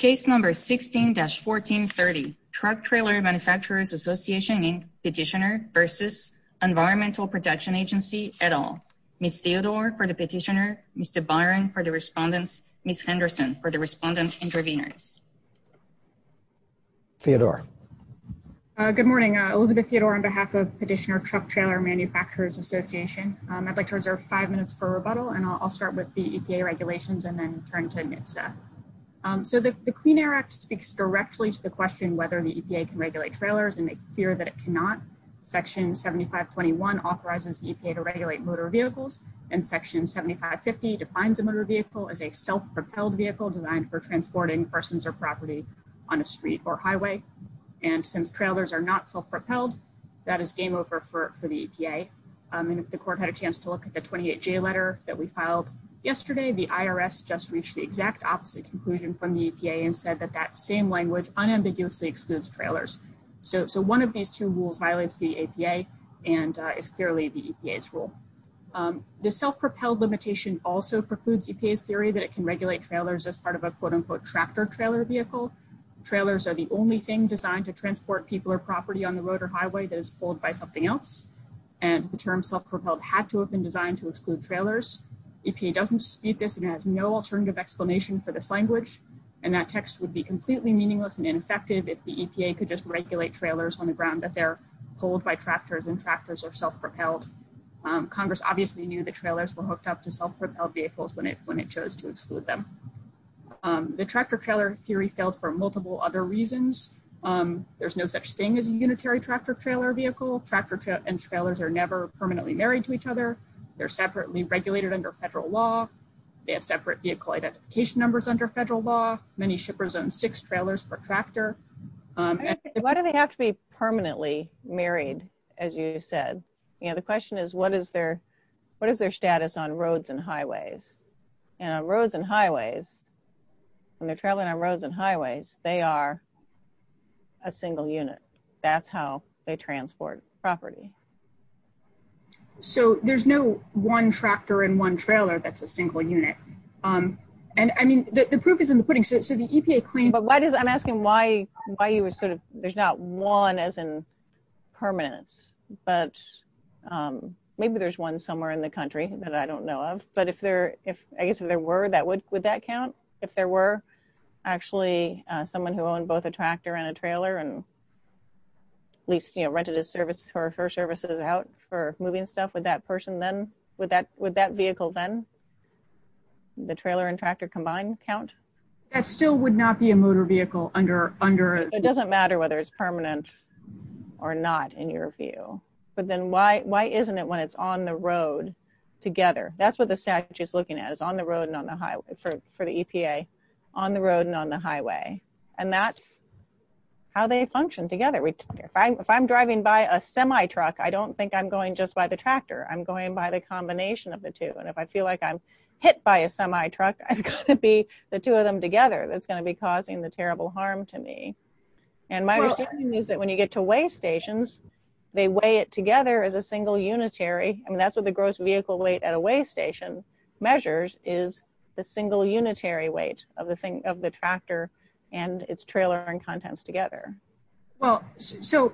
16-1430, Truck Trailer Manufacturers Association and Petitioner v. Environmental Protection Agency, et al. Ms. Theodore for the petitioner, Mr. Byron for the respondents, Ms. Henderson for the respondent intervenors. Theodore. Good morning, Elizabeth Theodore on behalf of Petitioner Truck Trailer Manufacturers Association. I'd like to reserve five minutes for rebuttal and I'll start with the EPA regulations and then turn to NHTSA. So the Clean Air Act speaks directly to the question whether the EPA can regulate trailers and make it clear that it cannot. Section 7521 authorizes the EPA to regulate motor vehicles and section 7550 defines a motor vehicle as a self-propelled vehicle designed for transporting persons or property on a street or highway. And since trailers are not self-propelled, that is game over for the EPA. And if the court had a chance to look at the 28-J letter that we filed yesterday, the IRS just reached the exact opposite conclusion from the EPA and said that that same language unambiguously excludes trailers. So one of these two rules violates the EPA and is clearly the EPA's rule. The self-propelled limitation also precludes EPA's theory that it can regulate trailers as part of a quote-unquote tractor trailer vehicle. Trailers are the only thing designed to transport people or property on the road or highway that is pulled by something else. And the term self-propelled had to have been designed to exclude trailers. EPA doesn't dispute this and has no alternative explanation for this language. And that text would be completely meaningless and ineffective if the EPA could just regulate trailers on the ground that they're pulled by tractors and tractors are self-propelled. Congress obviously knew the trailers were hooked up to self-propelled vehicles when it chose to exclude them. The tractor trailer theory fails for multiple other reasons. There's no such thing as a unitary tractor trailer vehicle. Tractor and trailers are never permanently married to each other. They're separately regulated under federal law. They have separate vehicle identification numbers under federal law. Many shippers own six trailers per tractor. Why do they have to be permanently married, as you said? The question is, what is their status on roads and highways? And on roads and highways, when they're traveling on roads and highways, they are a single unit. That's how they transport property. So there's no one tractor and one trailer that's a single unit. And I mean, the proof is in the pudding. So the EPA claim... But why does, I'm asking why you would sort of, there's not one as in permanence, but maybe there's one somewhere in the country that I don't know of. But if there, if I guess there were, that would, would that count? If there were actually someone who owned both a tractor and a trailer and at least, you know, rented his service or her services out for moving stuff with that person, then, with that, with that vehicle, then the trailer and tractor combined count? That still would not be a motor vehicle under, under... It doesn't matter whether it's permanent or not in your view. But then why, why isn't it when it's on the road together? That's what the statute is looking at, is on the road and on the highway for, for the EPA, on the road and on the highway. And that's how they function together. If I'm driving by a semi truck, I don't think I'm going just by the tractor. I'm going by the combination of the two. And if I feel like I'm hit by a semi truck, I've got to be the two of them together. That's going to be causing the terrible harm to me. And my understanding is that when you get to weigh stations, they weigh it together as a single unitary. I mean, that's what the gross vehicle weight at a weigh station measures is the single unitary weight of the thing, of the tractor and its trailer and contents together. Well, so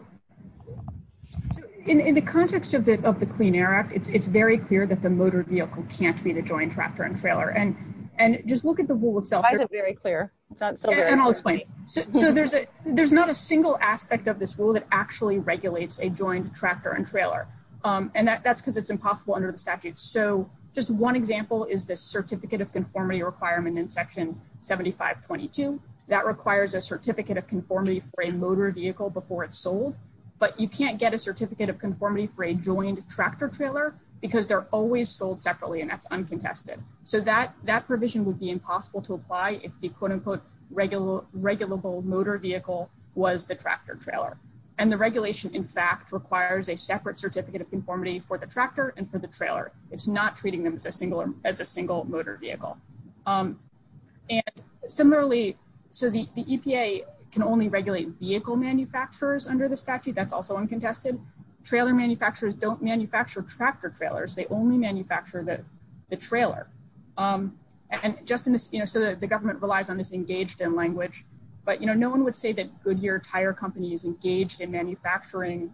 in the context of the, of the Clean Air Act, it's very clear that the motor vehicle can't be the joint tractor and trailer. And, and just look at the rule itself. Why is it very clear? And I'll explain. So there's a, there's not a single aspect of this rule that actually regulates a joint tractor and trailer. And that's because it's impossible under the statute. So just one example is the certificate of conformity requirement in section 7522. That requires a certificate of conformity for a motor vehicle before it's sold, but you can't get a certificate of conformity for a joint tractor trailer because they're always sold separately and that's uncontested. So that, that provision would be impossible to apply if the quote unquote regular, regulable motor vehicle was the tractor trailer. And the regulation in fact requires a separate certificate of conformity for the tractor and for the trailer. It's not treating them as a single, as a single motor vehicle. And similarly, so the EPA can only regulate vehicle manufacturers under the statute. That's also uncontested. Trailer manufacturers don't manufacture tractor trailers. They only manufacture the trailer. And just in this, you know, so the government relies on this engaged in language, but you know, no one would say that Goodyear tire company is engaged in manufacturing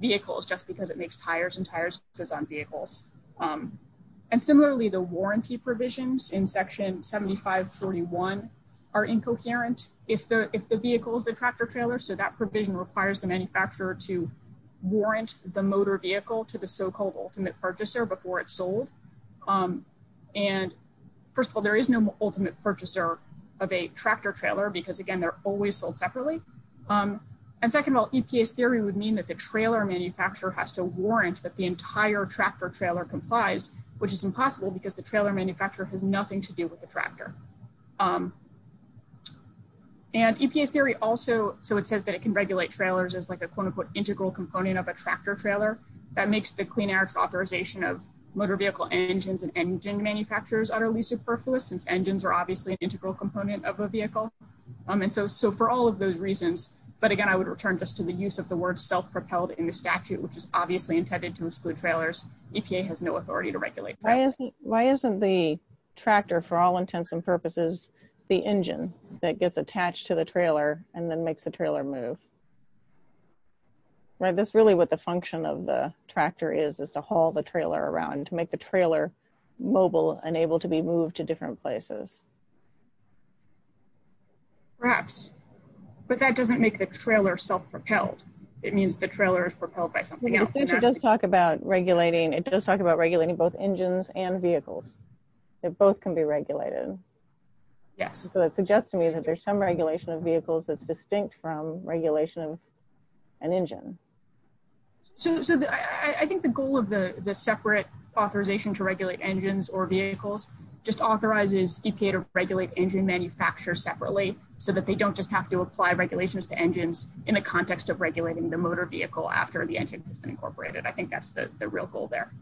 vehicles just because it makes tires and tires goes on vehicles. And similarly, the warranty provisions in section 7541 are incoherent if the, if the vehicle is the tractor trailer. So that provision requires the manufacturer to warrant the motor vehicle to the so-called ultimate purchaser before it's sold. And first of all, there is no ultimate purchaser of a tractor trailer because again, they're always sold separately. And second of all, EPA's theory would mean that the trailer manufacturer has to warrant that the entire tractor trailer complies, which is impossible because the trailer manufacturer has nothing to do with the tractor. And EPA's theory also, so it says that it can regulate trailers as like a quote unquote integral component of a tractor trailer that makes the Clean Air's authorization of motor vehicle engines and engine manufacturers utterly superfluous since engines are obviously an integral component of a vehicle. And so, so for all of those reasons, but again, I would return just to the use of the word self-propelled in the statute, which is obviously intended to exclude trailers. EPA has no authority to regulate that. Why isn't the tractor for all intents and purposes, the engine that gets attached to the trailer and then makes the trailer move, right? That's really what the function of the tractor is, is to haul the trailer around, to make the trailer mobile and able to be moved to different places. Perhaps, but that doesn't make the trailer self-propelled. It means the trailer is propelled by something else. It does talk about regulating. It does talk about regulating both engines and vehicles. Both can be regulated. Yes. So that suggests to me that there's some regulation of vehicles that's distinct from regulation of an engine. So I think the goal of the separate authorization to regulate engines or vehicles just authorizes EPA to regulate engine manufacturers separately so that they don't just have to apply regulations to engines in the context of regulating the motor vehicle after the engine has been incorporated. I think that's the real goal there.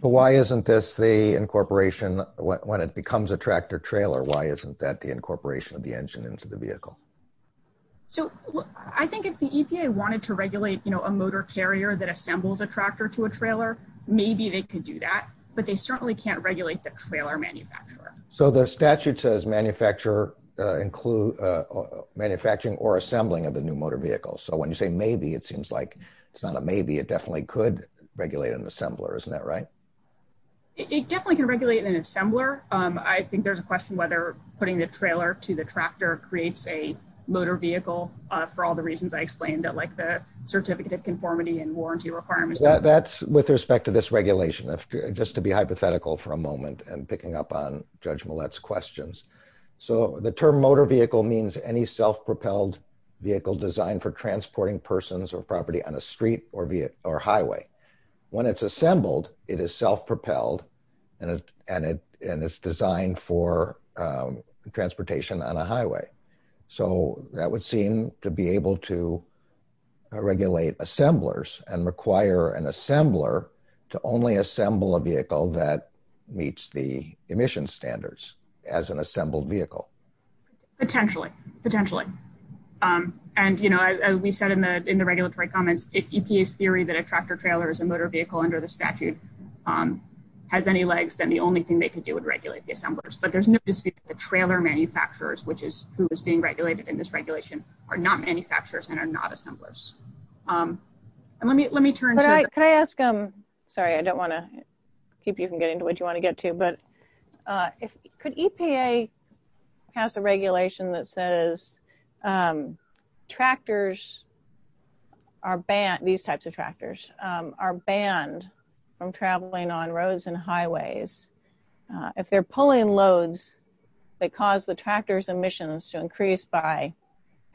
But why isn't this the incorporation, when it becomes a tractor-trailer, why isn't that the incorporation of the engine into the vehicle? So I think if the EPA wanted to regulate a motor carrier that assembles a tractor to a trailer, maybe they could do that, but they certainly can't regulate the trailer manufacturer. So the statute says manufacturing or assembling of the new motor vehicle. So when you say maybe, it seems like it's not a maybe, it definitely could regulate an assembler. Isn't that right? It definitely can regulate an assembler. I think there's a question whether putting the trailer to the tractor creates a motor vehicle for all the reasons I explained, that like the certificate of conformity and warranty requirements. That's with respect to this regulation, just to be hypothetical for a moment, and picking up on Judge Millett's questions. So the term motor vehicle means any self-propelled vehicle designed for transporting persons or property on a street or highway. When it's assembled, it is self-propelled and it's designed for transportation on a highway. So that would seem to be able to regulate assemblers and require an assembler to only assemble a vehicle that meets the emission standards as an assembled vehicle. Potentially. Potentially. And, you know, as we said in the regulatory comments, if EPA's theory that a tractor trailer is a motor vehicle under the statute has any legs, then the only thing they could do would regulate the assemblers. But there's no dispute that the trailer manufacturers, which is who is being regulated in this regulation, are not manufacturers and are not assemblers. And let me turn to- Could I ask, sorry, I don't want to keep you from getting to what you want to get to, but could EPA pass a regulation that says tractors are banned, these types of tractors, are banned from traveling on roads and highways if they're pulling loads that cause the tractor's emissions to increase by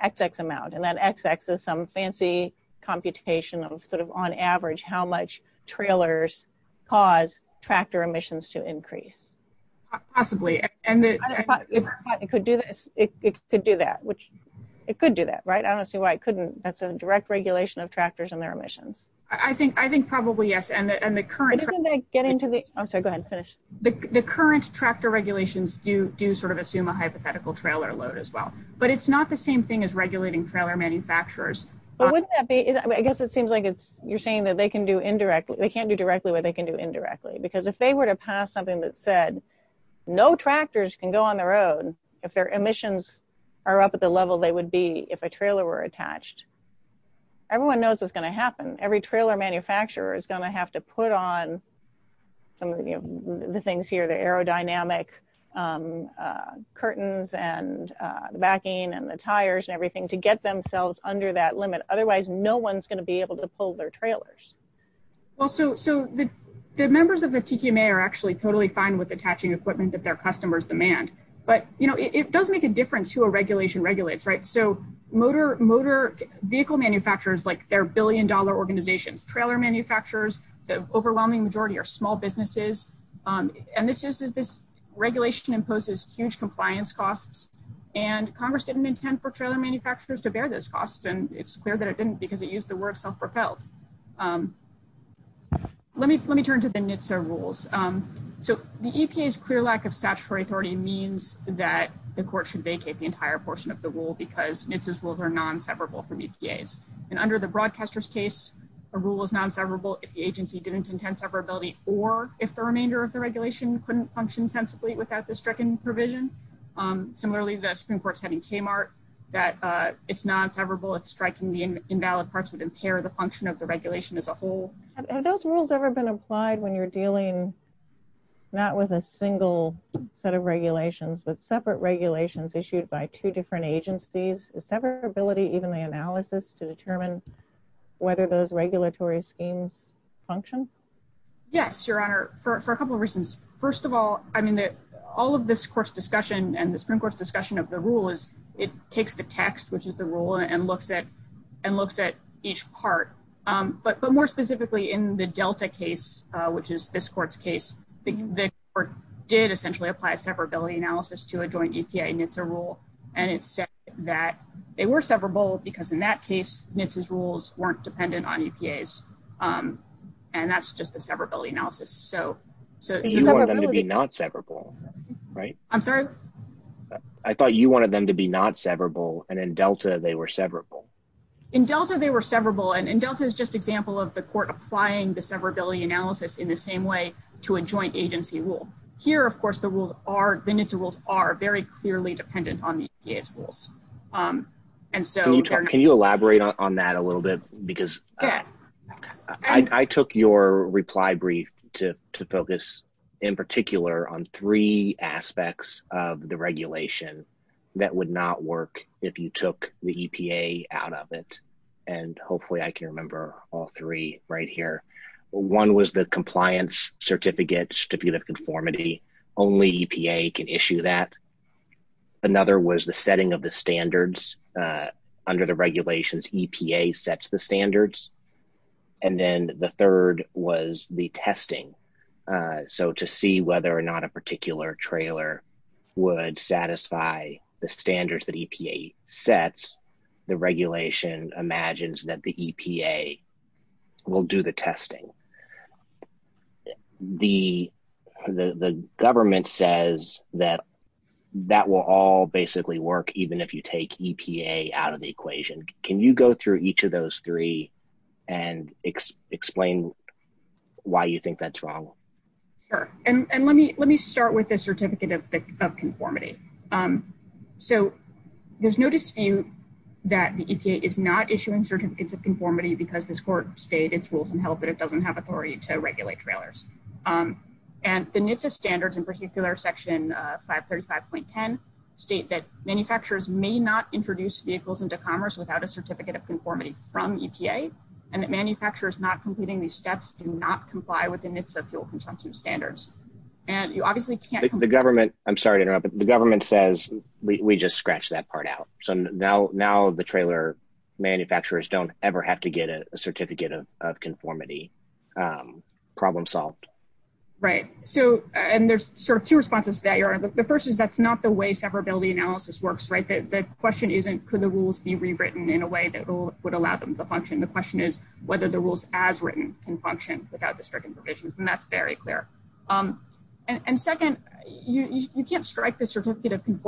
XX amount. And that XX is some fancy computation of sort of on average how much trailers cause tractor emissions to increase. Possibly. And the- It could do that. It could do that, right? I don't see why it couldn't. That's a direct regulation of tractors and their emissions. I think probably yes. And the current- But isn't that getting to the- I'm sorry, go ahead, finish. The current tractor regulations do sort of assume a hypothetical trailer load as well. But it's not the same thing as regulating trailer manufacturers. But wouldn't that be, I guess it seems like it's, you're saying that they can do indirectly, they can't do directly, but they can do indirectly. Because if they were to pass something that said no tractors can go on the road if their emissions are up at the level they would be if a trailer were attached, everyone knows it's going to happen. Every trailer manufacturer is going to have to put on some of the things here, the aerodynamic curtains and the backing and the otherwise no one's going to be able to pull their trailers. Well, so the members of the TTMA are actually totally fine with attaching equipment that their customers demand. But it does make a difference who a regulation regulates, right? So motor vehicle manufacturers, like their billion dollar organizations, trailer manufacturers, the overwhelming majority are small businesses. And this regulation imposes huge compliance costs. And Congress didn't intend for trailer manufacturers to bear those costs. And it's clear that it didn't because it used the word self-propelled. Let me turn to the NHTSA rules. So the EPA's clear lack of statutory authority means that the court should vacate the entire portion of the rule because NHTSA's rules are non-severable from EPA's. And under the broadcaster's case, a rule is non-severable if the agency didn't intend severability or if the remainder of the regulation couldn't function sensibly without the stricken provision. Similarly, the Supreme Court said in Kmart that it's non-severable if striking the invalid parts would impair the function of the regulation as a whole. Have those rules ever been applied when you're dealing not with a single set of regulations, but separate regulations issued by two different agencies? Is severability even the analysis to determine whether those regulatory schemes function? Yes, Your Honor, for a couple of reasons. First of all, I mean, all of this court's discussion and the Supreme Court's discussion of the rule is it takes the text, which is the rule, and looks at each part. But more specifically in the Delta case, which is this court's case, the court did essentially apply a severability analysis to a joint EPA NHTSA rule. And it said that they were severable because in that case, NHTSA's rules weren't dependent on EPA's. And that's just the severability analysis. You wanted them to be not severable, right? I'm sorry? I thought you wanted them to be not severable. And in Delta, they were severable. In Delta, they were severable. And Delta is just example of the court applying the severability analysis in the same way to a joint agency rule. Here, of course, the NHTSA rules are very clearly dependent on the EPA's rules. Can you elaborate on that a little bit? Because I took your reply brief to focus in particular on three aspects of the regulation that would not work if you took the EPA out of it. And hopefully I can remember all three right here. One was the compliance certificate, certificate of conformity. Only EPA can issue that. Another was the setting of the standards under the regulations. EPA sets the standards. And then the third was the testing. So to see whether or not a particular trailer would satisfy the standards that EPA sets, the regulation imagines that the EPA will do the testing. So the government says that that will all basically work even if you take EPA out of the equation. Can you go through each of those three and explain why you think that's wrong? Sure. And let me start with the certificate of conformity. So there's no dispute that the EPA is not issuing certificates of conformity because this court stayed its rules and held that it doesn't have authority to regulate trailers. And the NHTSA standards, in particular section 535.10, state that manufacturers may not introduce vehicles into commerce without a certificate of conformity from EPA and that manufacturers not completing these steps do not comply with the NHTSA fuel consumption standards. And you obviously can't The government, I'm sorry to interrupt, but the government says we just scratched that part out. So now the trailer manufacturers don't ever have to get a certificate of conformity. Problem solved. Right. So, and there's sort of two responses to that. The first is that's not the way separability analysis works, right? The question isn't could the rules be rewritten in a way that would allow them to function? The question is whether the rules as written can function without the stricken provisions. And that's very clear. And second, you can't strike the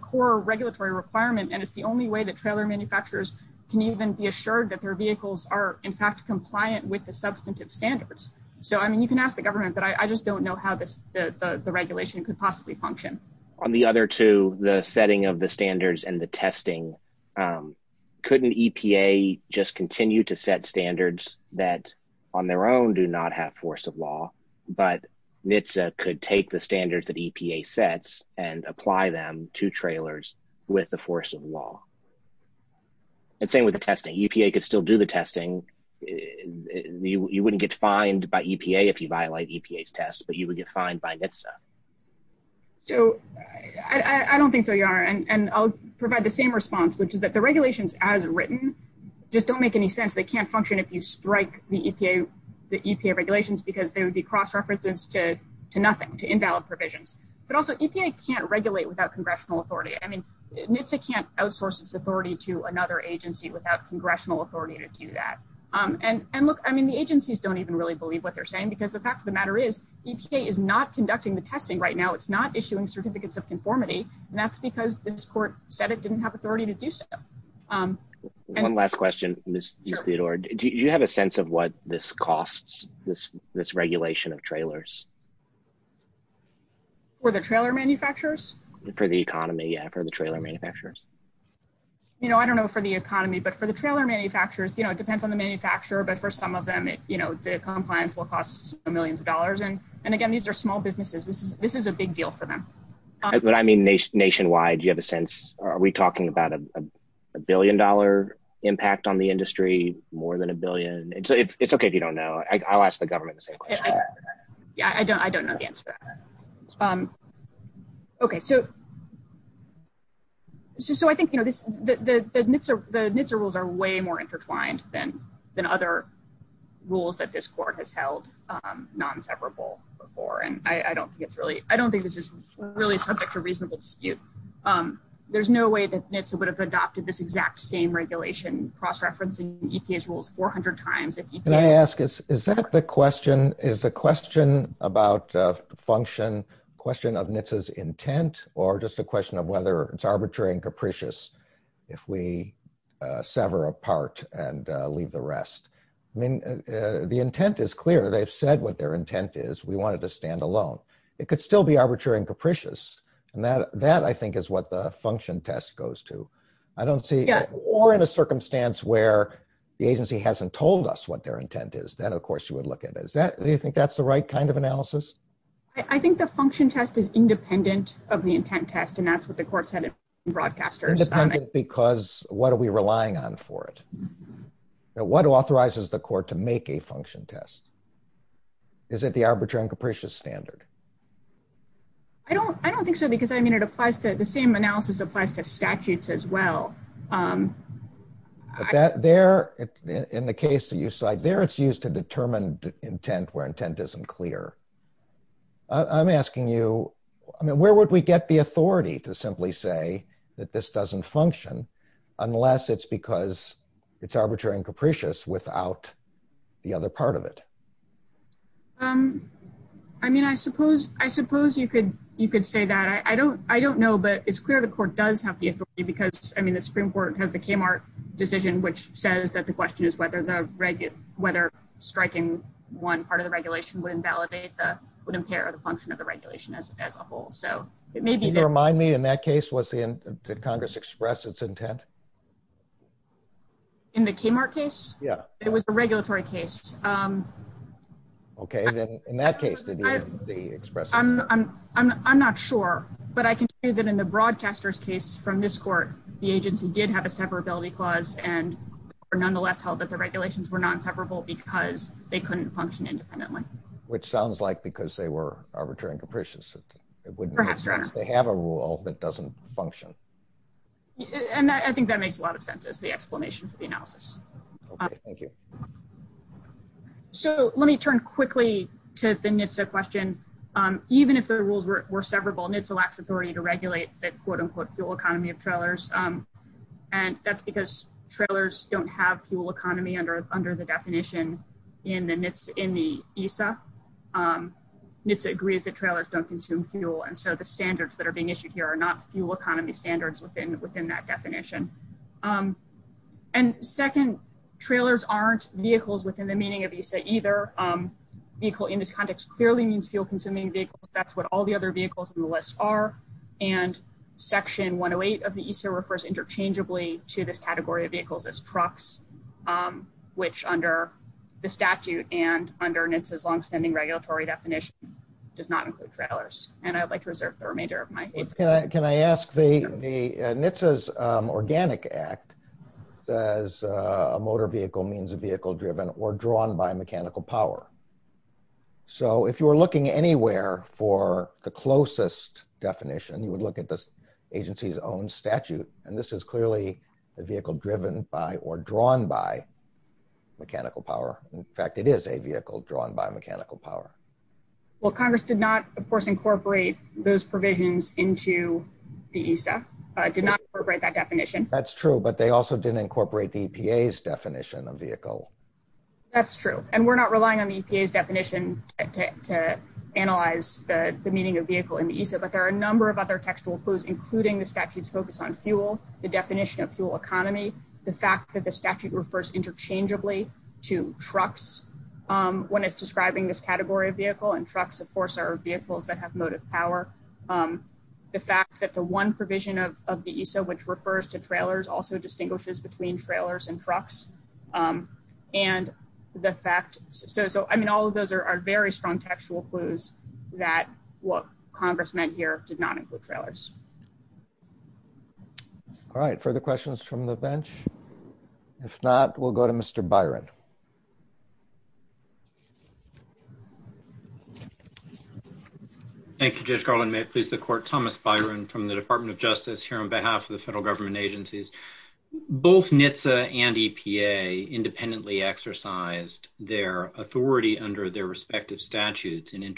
core regulatory requirement. And it's the only way that trailer manufacturers can even be assured that their vehicles are in fact compliant with the substantive standards. So, I mean, you can ask the government, but I just don't know how the regulation could possibly function. On the other two, the setting of the standards and the testing, couldn't EPA just continue to set standards that on their own do not have force of law, but NHTSA could take the standards that EPA sets and apply them to trailers with the force of law. And same with the testing. EPA could still do the testing. You wouldn't get fined by EPA if you violate EPA's test, but you would get fined by NHTSA. So I don't think so, Yara. And I'll provide the same response, which is that the regulations as written just don't make any sense. They can't function if you strike the EPA regulations, because they would be cross-references to nothing, to invalid provisions. But also, EPA can't regulate without congressional authority. I mean, NHTSA can't outsource its authority to another agency without congressional authority to do that. And look, I mean, the agencies don't even really believe what they're saying, because the fact of the matter is, EPA is not conducting the testing right now. It's not issuing certificates of conformity, and that's because this court said it didn't have authority to do so. One last question, Ms. Theodore. Do you have a sense of what this costs, this regulation of trailers? For the trailer manufacturers? For the economy, yeah, for the trailer manufacturers. You know, I don't know for the economy, but for the trailer manufacturers, you know, it depends on the manufacturer, but for some of them, you know, the compliance will cost millions of dollars. And again, these are small businesses. This is a big deal for them. But I mean, nationwide, do you have a sense? Are we talking about a billion-dollar impact on the industry, more than a billion? It's okay if you don't know. I'll ask the government the same question. Yeah, I don't know the answer to that. Okay, so I think, you know, the NHTSA rules are way more intertwined than other rules that this court has held non-separable before, and I don't think it's really, I don't think this is really subject to reasonable dispute. There's no way that NHTSA would have adopted this exact same regulation, cross-referencing EPA's rules 400 times. Can I ask, is that the question, is the question about function a question of NHTSA's intent, or just a question of whether it's arbitrary and capricious if we sever apart and leave the rest? I mean, the intent is clear. They've said what their intent is. We want it to stand alone. It could still be arbitrary and capricious, and that I think is what the function test goes to. I don't see, or in a circumstance where the agency hasn't told us what their intent is, then of course you would look at it. Is that, do you think that's the right kind of analysis? I think the function test is independent of the intent test, and that's what the court said in Broadcasters. Independent because what are we is it the arbitrary and capricious standard? I don't, I don't think so because I mean it applies to the same analysis applies to statutes as well. But that there in the case that you cite there, it's used to determine intent where intent isn't clear. I'm asking you, I mean, where would we get the authority to simply say that this doesn't function unless it's because it's arbitrary and capricious without the other part of it? I mean, I suppose, I suppose you could, you could say that. I don't, I don't know, but it's clear the court does have the authority because I mean the Supreme Court has the Kmart decision which says that the question is whether striking one part of the regulation would invalidate the, would impair the function of the regulation as a whole. So it may be that. Remind me, in that case, was the, did Congress express its intent? In the Kmart case? Yeah. It was a regulatory case. Okay, then in that case, did the express? I'm, I'm, I'm not sure, but I can tell you that in the Broadcasters case from this court, the agency did have a separability clause and nonetheless held that the regulations were non-separable because they couldn't function independently. Which sounds like because they were arbitrary and capricious it wouldn't. Perhaps, doesn't function. And I think that makes a lot of sense as the explanation for the analysis. Thank you. So let me turn quickly to the NHTSA question. Even if the rules were, were severable NHTSA lacks authority to regulate the quote-unquote fuel economy of trailers. And that's because trailers don't have fuel economy under, under the definition in the NHTSA, in the ESA. NHTSA agrees that trailers don't consume fuel. And so the standards that are issued here are not fuel economy standards within, within that definition. And second, trailers aren't vehicles within the meaning of ESA either. Vehicle in this context clearly means fuel consuming vehicles. That's what all the other vehicles in the list are. And section 108 of the ESA refers interchangeably to this category of vehicles as trucks. Which under the statute and under NHTSA's long-standing regulatory definition does not include trailers. And I'd like to reserve the remainder of my time. Can I ask the NHTSA's Organic Act says a motor vehicle means a vehicle driven or drawn by mechanical power. So if you were looking anywhere for the closest definition, you would look at this agency's own statute. And this is clearly a vehicle driven by or drawn by mechanical power. In fact, it is a vehicle drawn by mechanical power. Well, Congress did not, of course, incorporate those provisions into the ESA. Did not incorporate that definition. That's true. But they also didn't incorporate the EPA's definition of vehicle. That's true. And we're not relying on the EPA's definition to analyze the meaning of vehicle in the ESA. But there are a number of other textual clues, including the statute's focus on fuel, the definition of fuel economy, the fact that the statute refers interchangeably to trucks when it's describing this category of vehicle. And trucks, of course, are vehicles that have motive power. The fact that the one provision of the ESA, which refers to trailers, also distinguishes between trailers and trucks. And the fact, so, I mean, all of those are very strong textual clues that what Congress meant here did not include trailers. All right. Further questions from the bench? If not, we'll go to Mr. Byron. Thank you, Judge Garland. May it please the court. Thomas Byron from the Department of Justice here on behalf of the federal government agencies. Both NHTSA and EPA independently exercised their authority under their respective statutes and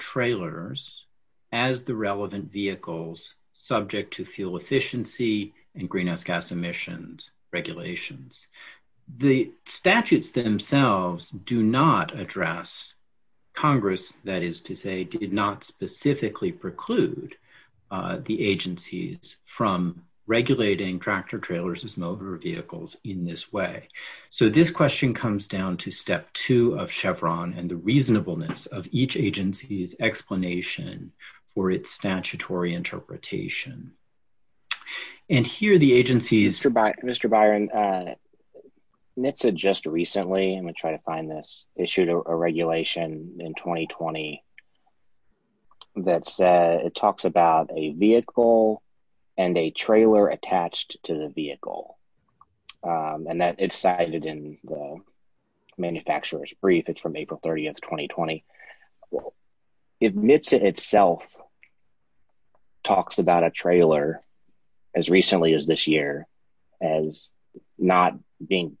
trailers as the relevant vehicles subject to fuel efficiency and greenhouse gas emissions regulations. The statutes themselves do not address Congress, that is to say, did not specifically preclude the agencies from regulating tractor trailers as motor vehicles in this way. So, this question comes down to step two of Chevron and the reasonableness of each agency's explanation for its statutory interpretation. And here the agency's... Mr. Byron, NHTSA just recently, I'm going to try to find this, issued a regulation in 2020 that said it talks about a vehicle and a trailer attached to the vehicle. And that it's cited in the manufacturer's brief. It's from April 30th, 2020. NHTSA itself talks about a trailer as recently as this year as not being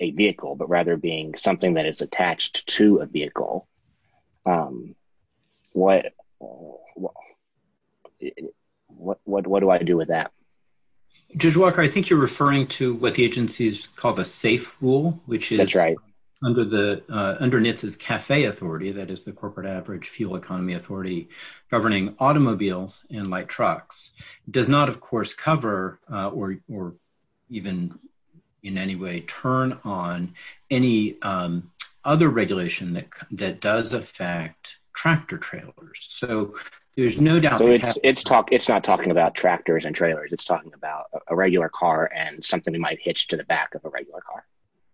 a vehicle, but rather being something that is attached to a vehicle. What do I do with that? Judge Walker, I think you're referring to what the agency's called a safe rule, which is under NHTSA's CAFE authority, that is the Corporate Average Fuel Economy Authority, governing automobiles and light trucks. It does not, of course, cover or even in any way turn on any other regulation that does affect tractor trailers. So, there's no doubt... So, it's not talking about tractors and trailers. It's talking about a regular car and something that might hitch to the back of a regular car.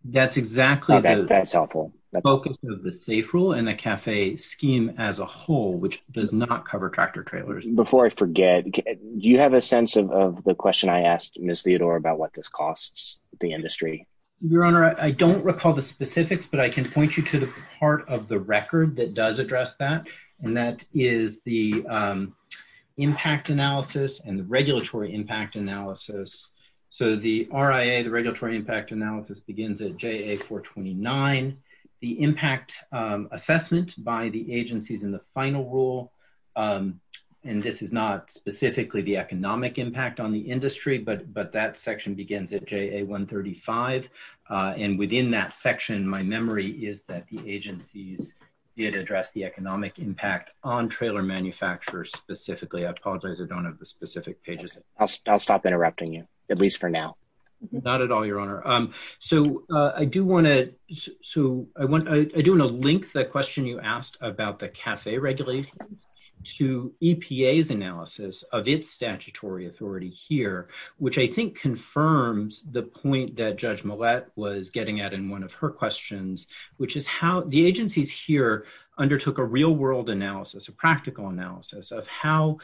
That's exactly the focus of the safe rule and the CAFE scheme as a whole, which does not cover tractor trailers. Before I forget, do you have a sense of the question I asked Ms. Theodore about what this I don't recall the specifics, but I can point you to the part of the record that does address that, and that is the Impact Analysis and the Regulatory Impact Analysis. So, the RIA, the Regulatory Impact Analysis, begins at JA-429. The impact assessment by the agencies in the final rule, and this is not specifically the economic impact on the industry, but that section begins at JA-135. And within that section, my memory is that the agencies did address the economic impact on trailer manufacturers specifically. I apologize, I don't have the specific pages. I'll stop interrupting you, at least for now. Not at all, Your Honor. So, I do want to link the question you asked about the CAFE regulations to EPA's analysis of its statutory authority here, which I think confirms the point that Judge Millett was getting at in one of her questions, which is how the agencies here undertook a real world analysis, a practical analysis of how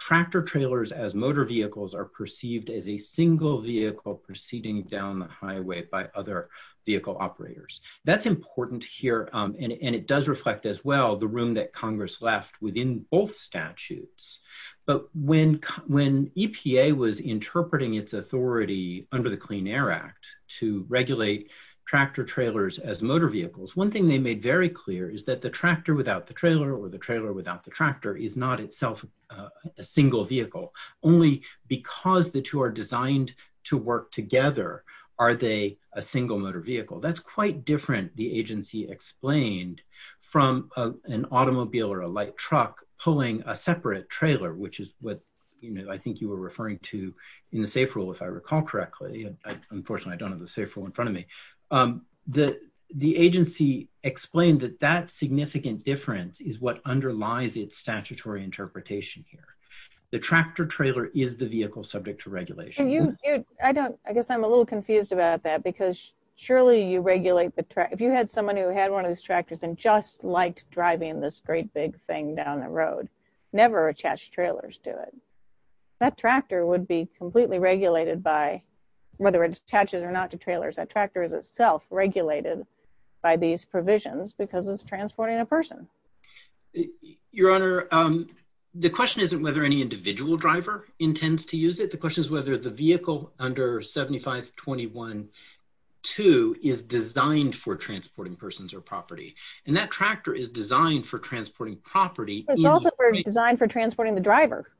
tractor trailers as motor vehicles are perceived as a single vehicle proceeding down the highway by other vehicle operators. That's important here, and it does reflect as well the room that Congress left within both statutes. But when EPA was interpreting its authority under the Clean Air Act to regulate tractor trailers as motor vehicles, one thing they made very clear is that the tractor without the trailer or the trailer without the tractor is not itself a single vehicle. Only because the two are designed to work together are they a single motor vehicle. That's quite different, the agency explained, from an automobile or a light truck pulling a separate trailer, which is what, you know, I think you were referring to in the SAFE rule, if I recall correctly. Unfortunately, I don't have the SAFE rule in front of me. The agency explained that that significant difference is what underlies its statutory interpretation here. The tractor trailer is the vehicle subject to regulation. I don't, I guess I'm a little confused about that because surely you regulate the tractor, if you had someone who had one of these tractors and just liked driving this great big thing down the road, never attached trailers to it. That tractor would be completely regulated by whether it attaches or not to trailers. That tractor is itself regulated by these provisions because it's transporting a person. Your Honor, the question isn't whether any individual driver intends to use it. The question is whether the vehicle under 7521-2 is designed for transporting persons or property. And that tractor is designed for transporting property. It's also designed for transporting the driver.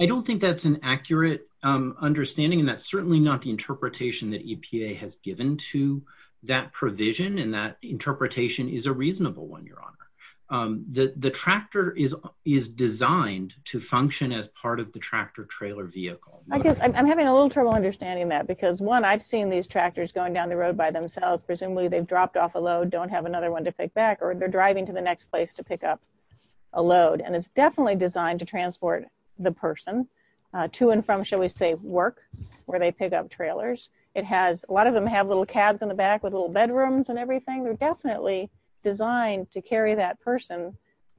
I don't think that's an accurate understanding and that's certainly not the interpretation that EPA has given to that provision and that interpretation is a reasonable one, Your Honor. The tractor is designed to function as part of the tractor trailer vehicle. I guess I'm having a little trouble understanding that because one, I've seen these tractors going down the road by themselves. Presumably they've dropped off a load, don't have another one to pick back or they're driving to the next place to pick up a load. And it's definitely designed to transport the person to and from, shall we say, work where they pick up trailers. It has, a lot of them have little cabs in the back with little bedrooms and everything. They're definitely designed to carry that person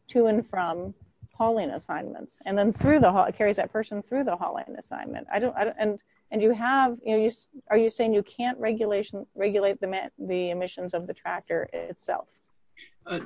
to and from hauling assignments and then through the haul, it carries that person through the hauling assignment. I don't, and you have, you know, are you saying you can't regulation, regulate the emissions of the tractor itself?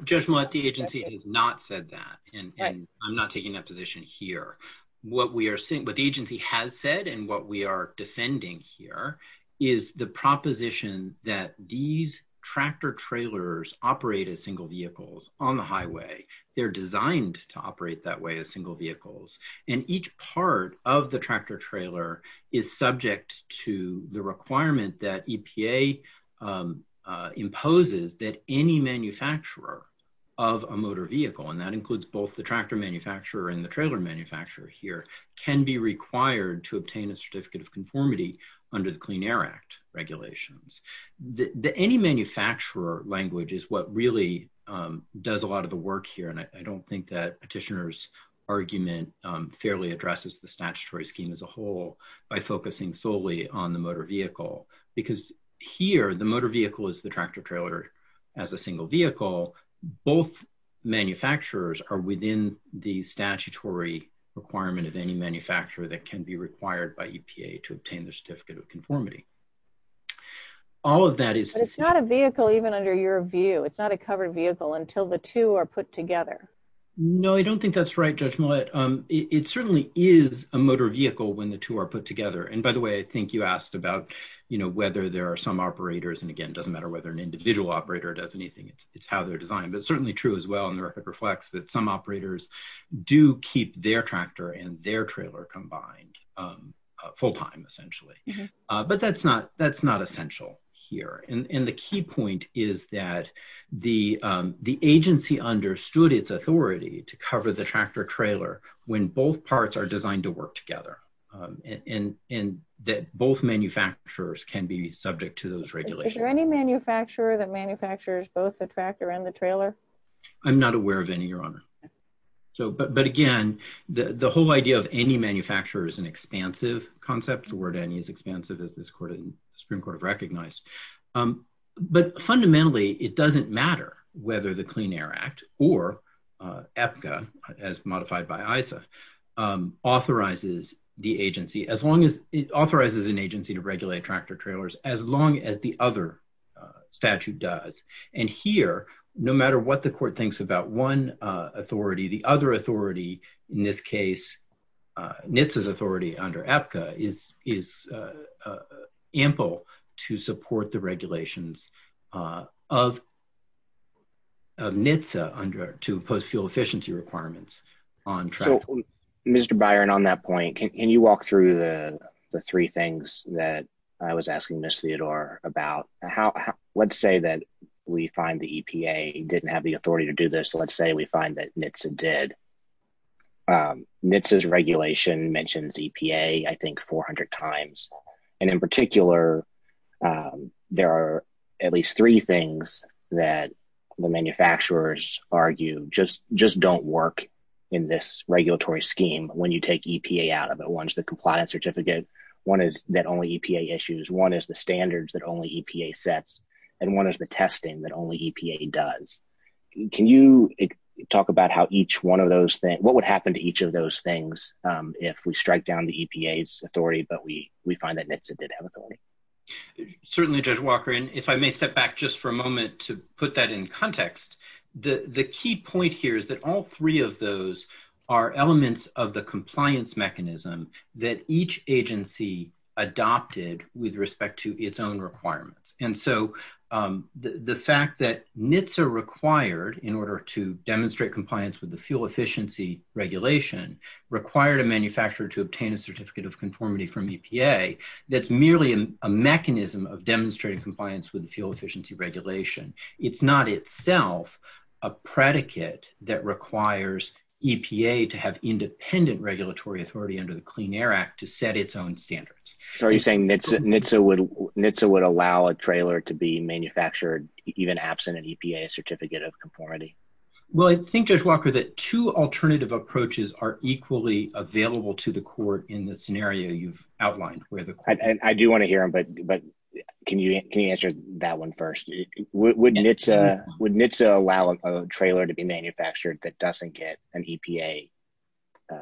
Judge Millett, the agency has not said that and I'm not taking that position here. What we are seeing, what the agency has said and what we are defending here is the proposition that these tractor trailers operate as single vehicles on the highway. They're designed to operate that way as single vehicles. And each part of the tractor trailer is subject to the requirement that EPA imposes that any manufacturer of a motor vehicle, and that includes both the tractor manufacturer and the trailer manufacturer here, can be required to any manufacturer language is what really does a lot of the work here. And I don't think that petitioner's argument fairly addresses the statutory scheme as a whole by focusing solely on the motor vehicle because here the motor vehicle is the tractor trailer as a single vehicle. Both manufacturers are within the statutory requirement of any manufacturer that can be It's not a vehicle even under your view. It's not a covered vehicle until the two are put together. No, I don't think that's right, Judge Millett. It certainly is a motor vehicle when the two are put together. And by the way, I think you asked about, you know, whether there are some operators and again, doesn't matter whether an individual operator does anything. It's how they're designed, but certainly true as well. And the record reflects that some operators do keep their tractor and their trailer combined full time essentially. But that's not essential here. And the key point is that the agency understood its authority to cover the tractor trailer when both parts are designed to work together and that both manufacturers can be subject to those regulations. Is there any manufacturer that manufactures both the tractor and the trailer? I'm not aware of any, Your Honor. But again, the whole idea of any manufacturer is an expansive concept. The word any is expansive as this Supreme Court have recognized. But fundamentally, it doesn't matter whether the Clean Air Act or APCA as modified by ISA authorizes the agency as long as it authorizes an agency to regulate tractor trailers, as long as the other statute does. And here, no matter what the court thinks about one authority, the other authority under APCA is ample to support the regulations of NHTSA to impose fuel efficiency requirements on tractors. Mr. Byron, on that point, can you walk through the three things that I was asking Ms. Theodore about? Let's say that we find the EPA didn't have the authority to do this. Let's say we find that NHTSA did. NHTSA's regulation mentions EPA, I think, 400 times. And in particular, there are at least three things that the manufacturers argue just don't work in this regulatory scheme when you take EPA out of it. One is the compliance certificate. One is that only EPA issues. One is the standards that only EPA sets. And one is the testing that EPA does. Can you talk about what would happen to each of those things if we strike down the EPA's authority, but we find that NHTSA did have authority? Certainly, Judge Walker. And if I may step back just for a moment to put that in context, the key point here is that all three of those are elements of the compliance mechanism that each agency adopted with respect to its own standards. The fact that NHTSA required, in order to demonstrate compliance with the fuel efficiency regulation, required a manufacturer to obtain a certificate of conformity from EPA, that's merely a mechanism of demonstrating compliance with the fuel efficiency regulation. It's not itself a predicate that requires EPA to have independent regulatory authority under the Clean Air Act to set its own standards. Are you saying NHTSA would allow a trailer to be manufactured, even absent an EPA certificate of conformity? Well, I think, Judge Walker, that two alternative approaches are equally available to the court in the scenario you've outlined. I do want to hear them, but can you answer that one first? Would NHTSA allow a trailer to be manufactured that doesn't get an EPA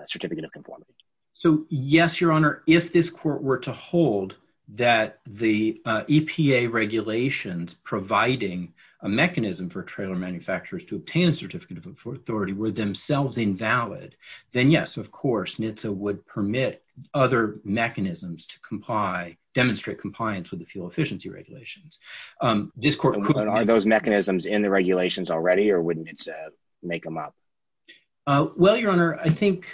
certificate of conformity? So, yes, Your Honor, if this court were to hold that the EPA regulations providing a mechanism for trailer manufacturers to obtain a certificate of authority were themselves invalid, then yes, of course, NHTSA would permit other mechanisms to comply, demonstrate compliance with the fuel efficiency regulations. Are those mechanisms in the regulations already, or would NHTSA make them up? Well, Your Honor, I think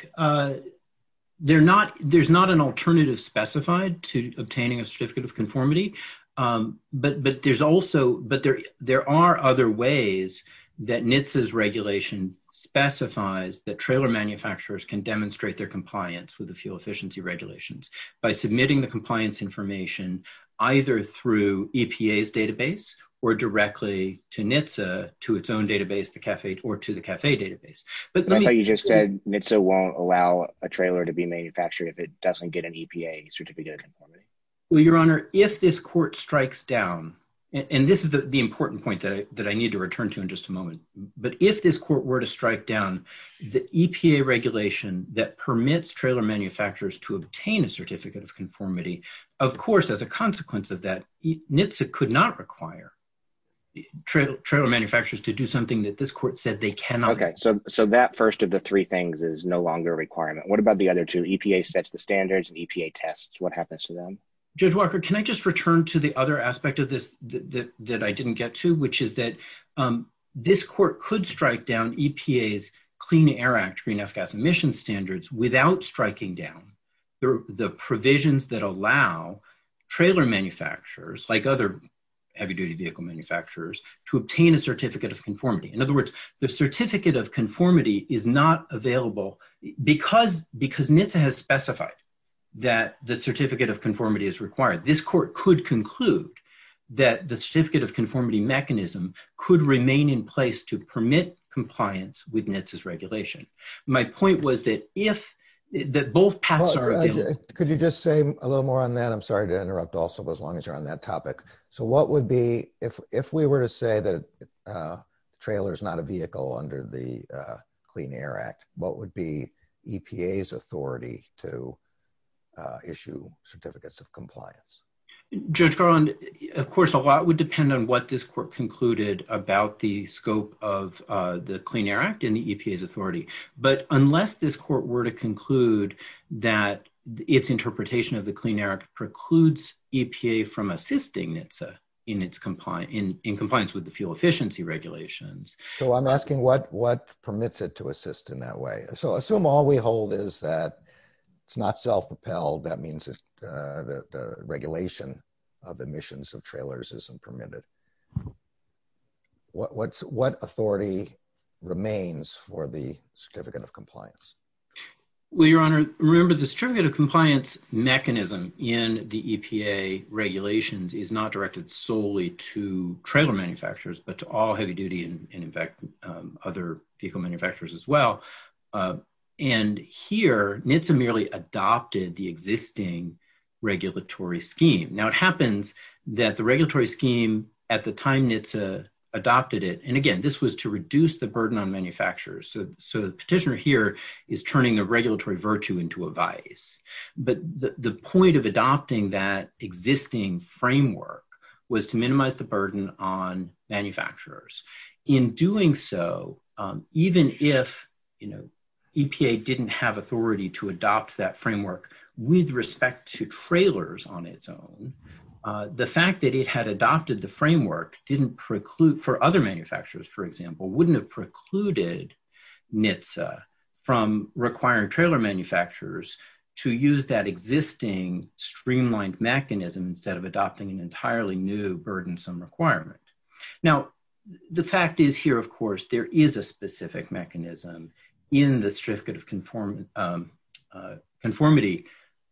there's not an alternative specified to obtaining a certificate of conformity, but there are other ways that NHTSA's regulation specifies that trailer manufacturers can demonstrate their compliance with the fuel efficiency regulations by submitting the compliance information either through EPA's own database or to the CAFE database. I thought you just said NHTSA won't allow a trailer to be manufactured if it doesn't get an EPA certificate of conformity. Well, Your Honor, if this court strikes down, and this is the important point that I need to return to in just a moment, but if this court were to strike down the EPA regulation that permits trailer manufacturers to obtain a certificate of conformity, of course, as a consequence of that, NHTSA could not require trailer manufacturers to do something that this court said they cannot. Okay, so that first of the three things is no longer a requirement. What about the other two? EPA sets the standards, EPA tests. What happens to them? Judge Walker, can I just return to the other aspect of this that I didn't get to, which is that this court could strike down EPA's Clean Air Act greenhouse gas emission standards without striking down the provisions that allow trailer manufacturers, like other heavy-duty vehicle manufacturers, to obtain a certificate of conformity. In other words, the certificate of conformity is not available because NHTSA has specified that the certificate of conformity is required. This court could conclude that the certificate of conformity mechanism could remain in place to permit compliance with NHTSA's regulation. My point was that both paths are available. Could you just say a little more on that? I'm sorry to interrupt as long as you're on that topic. What would be, if we were to say that the trailer is not a vehicle under the Clean Air Act, what would be EPA's authority to issue certificates of compliance? Judge Garland, of course, a lot would depend on what this court concluded about the scope of the Clean Air Act and the EPA's authority. Unless this court were to conclude that its EPA from assisting NHTSA in compliance with the fuel efficiency regulations. I'm asking what permits it to assist in that way. Assume all we hold is that it's not self-propelled, that means that the regulation of emissions of trailers isn't permitted. What authority remains for the certificate of compliance? Well, Your Honor, remember the certificate of compliance mechanism in the EPA regulations is not directed solely to trailer manufacturers, but to all heavy duty and in fact other vehicle manufacturers as well. And here NHTSA merely adopted the existing regulatory scheme. Now it happens that the regulatory scheme at the time NHTSA adopted it, and again this was to reduce the burden on manufacturers. So the petitioner here is turning a regulatory virtue into a vice, but the point of adopting that existing framework was to minimize the burden on manufacturers. In doing so, even if EPA didn't have authority to adopt that framework with respect to trailers on its own, the fact that it had adopted the framework for other manufacturers, for example, wouldn't have precluded NHTSA from requiring trailer manufacturers to use that existing streamlined mechanism instead of adopting an entirely new burdensome requirement. Now the fact is here, of course, there is a specific mechanism in the certificate of conformity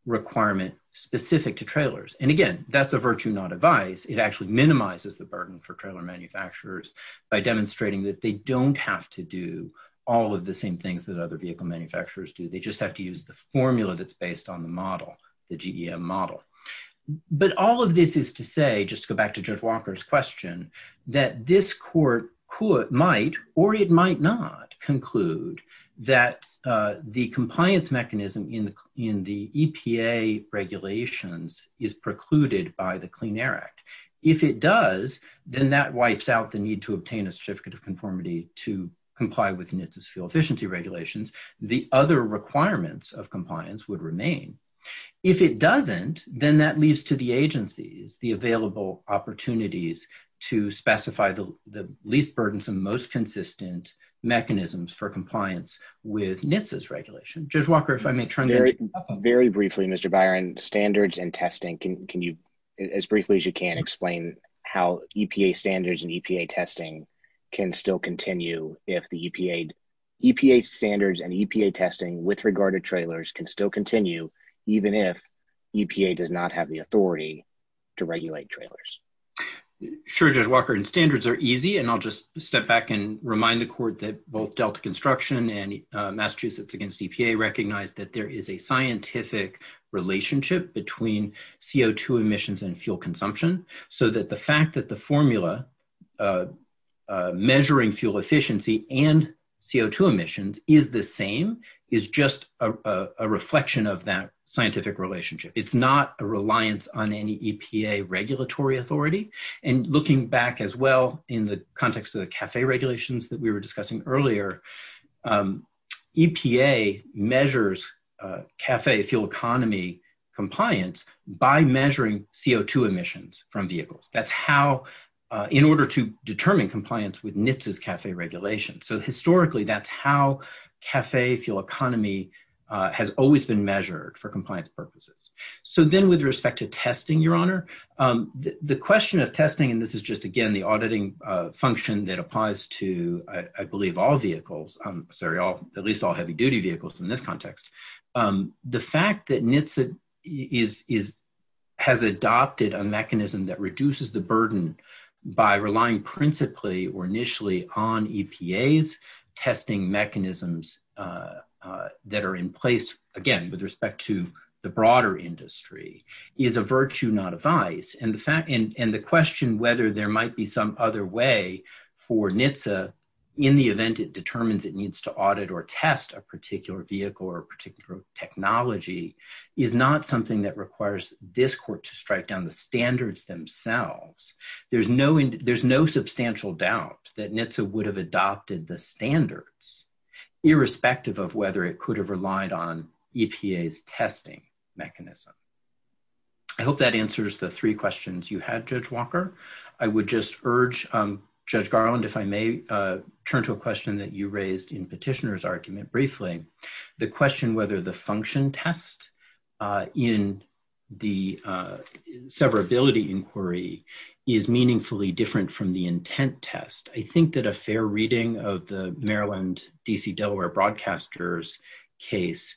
requirement specific to trailers, and again that's a virtue not a vice. It actually minimizes the burden on manufacturers. They don't have to do all of the same things that other vehicle manufacturers do. They just have to use the formula that's based on the model, the GEM model. But all of this is to say, just to go back to Judge Walker's question, that this court might or it might not conclude that the compliance mechanism in the EPA regulations is precluded by the Clean Air Act. If it does, then that wipes out the need to obtain a certificate of conformity to comply with NHTSA's fuel efficiency regulations. The other requirements of compliance would remain. If it doesn't, then that leaves to the agencies the available opportunities to specify the least burdensome, most consistent mechanisms for compliance with NHTSA's regulation. Judge Walker, if I may turn to you. Very briefly, Mr. Byron, standards and testing, can you, as briefly as can, explain how EPA standards and EPA testing can still continue if the EPA standards and EPA testing with regard to trailers can still continue even if EPA does not have the authority to regulate trailers? Sure, Judge Walker. Standards are easy, and I'll just step back and remind the court that both Delta Construction and Massachusetts Against EPA recognize that there is a scientific relationship between CO2 emissions and fuel consumption, so that the fact that the formula measuring fuel efficiency and CO2 emissions is the same is just a reflection of that scientific relationship. It's not a reliance on any EPA regulatory authority, and looking back as well in the context of the CAFE regulations that we were discussing earlier, EPA measures CAFE fuel economy compliance by measuring CO2 emissions from vehicles. That's how, in order to determine compliance with NHTSA's CAFE regulations. So historically, that's how CAFE fuel economy has always been measured for compliance purposes. So then with respect to testing, Your Honor, the question of testing, and this is just again the auditing function that applies to, I believe, sorry, at least all heavy-duty vehicles in this context, the fact that NHTSA has adopted a mechanism that reduces the burden by relying principally or initially on EPA's testing mechanisms that are in place, again, with respect to the broader industry is a virtue, not a vice, and the question whether there might be some other way for NHTSA in the event it determines it needs to audit or test a particular vehicle or particular technology is not something that requires this court to strike down the standards themselves. There's no substantial doubt that NHTSA would have adopted the standards, irrespective of whether it could have relied on Judge Walker. I would just urge Judge Garland, if I may, turn to a question that you raised in Petitioner's argument briefly, the question whether the function test in the severability inquiry is meaningfully different from the intent test. I think that a fair reading of the Maryland, D.C., Delaware broadcasters case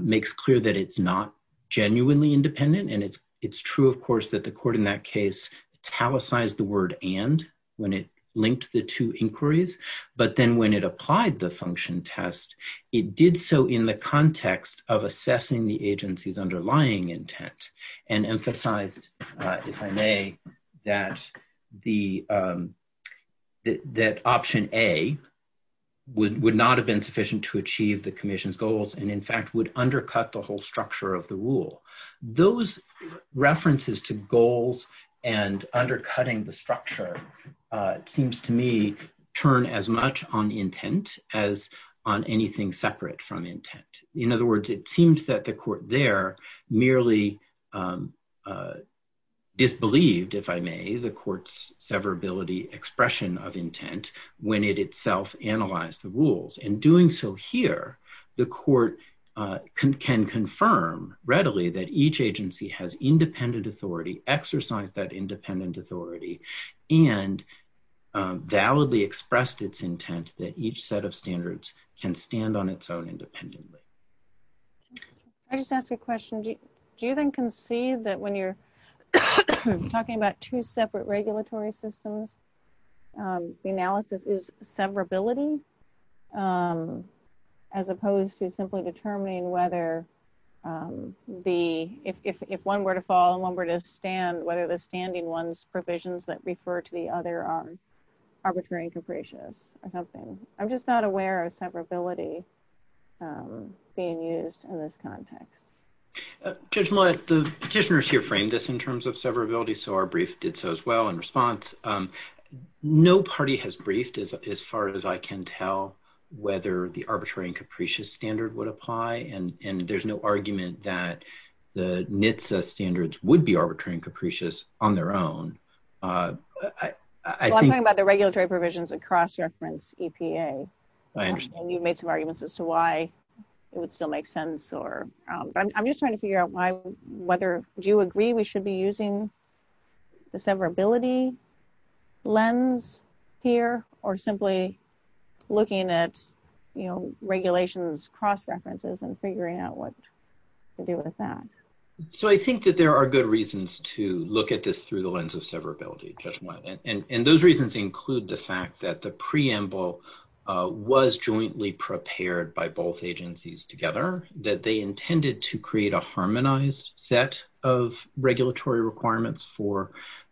makes clear that it's not genuinely independent, and it's true, of course, that the court in that case italicized the word and when it linked the two inquiries, but then when it applied the function test, it did so in the context of assessing the agency's underlying intent and emphasized, if I may, that option A would not have been sufficient to achieve the commission's goals and, in fact, would undercut the whole structure of the rule. Those references to goals and undercutting the structure seems to me turn as much on intent as on anything separate from intent. In other words, it seems that the court there merely disbelieved, if I may, the court's severability expression of intent when it itself analyzed the readily that each agency has independent authority, exercised that independent authority, and validly expressed its intent that each set of standards can stand on its own independently. I just ask a question. Do you then concede that when you're talking about two separate regulatory systems, the analysis is severability as opposed to simply determining whether if one were to fall and one were to stand, whether the standing one's provisions that refer to the other are arbitrary and capricious or something? I'm just not aware of severability being used in this context. Judge Millett, the petitioners here framed this in terms of severability, so our brief did so as in response. No party has briefed as far as I can tell whether the arbitrary and capricious standard would apply, and there's no argument that the NHTSA standards would be arbitrary and capricious on their own. I'm talking about the regulatory provisions across reference EPA. I understand. You've made some arguments as to why it would still make sense. I'm just trying to figure out whether you agree we should be using the severability lens here or simply looking at regulations cross-references and figuring out what to do with that. I think that there are good reasons to look at this through the lens of severability, Judge Millett. Those reasons include the fact that the preamble was jointly prepared by both agencies together, that they intended to create a harmonized set of regulatory requirements for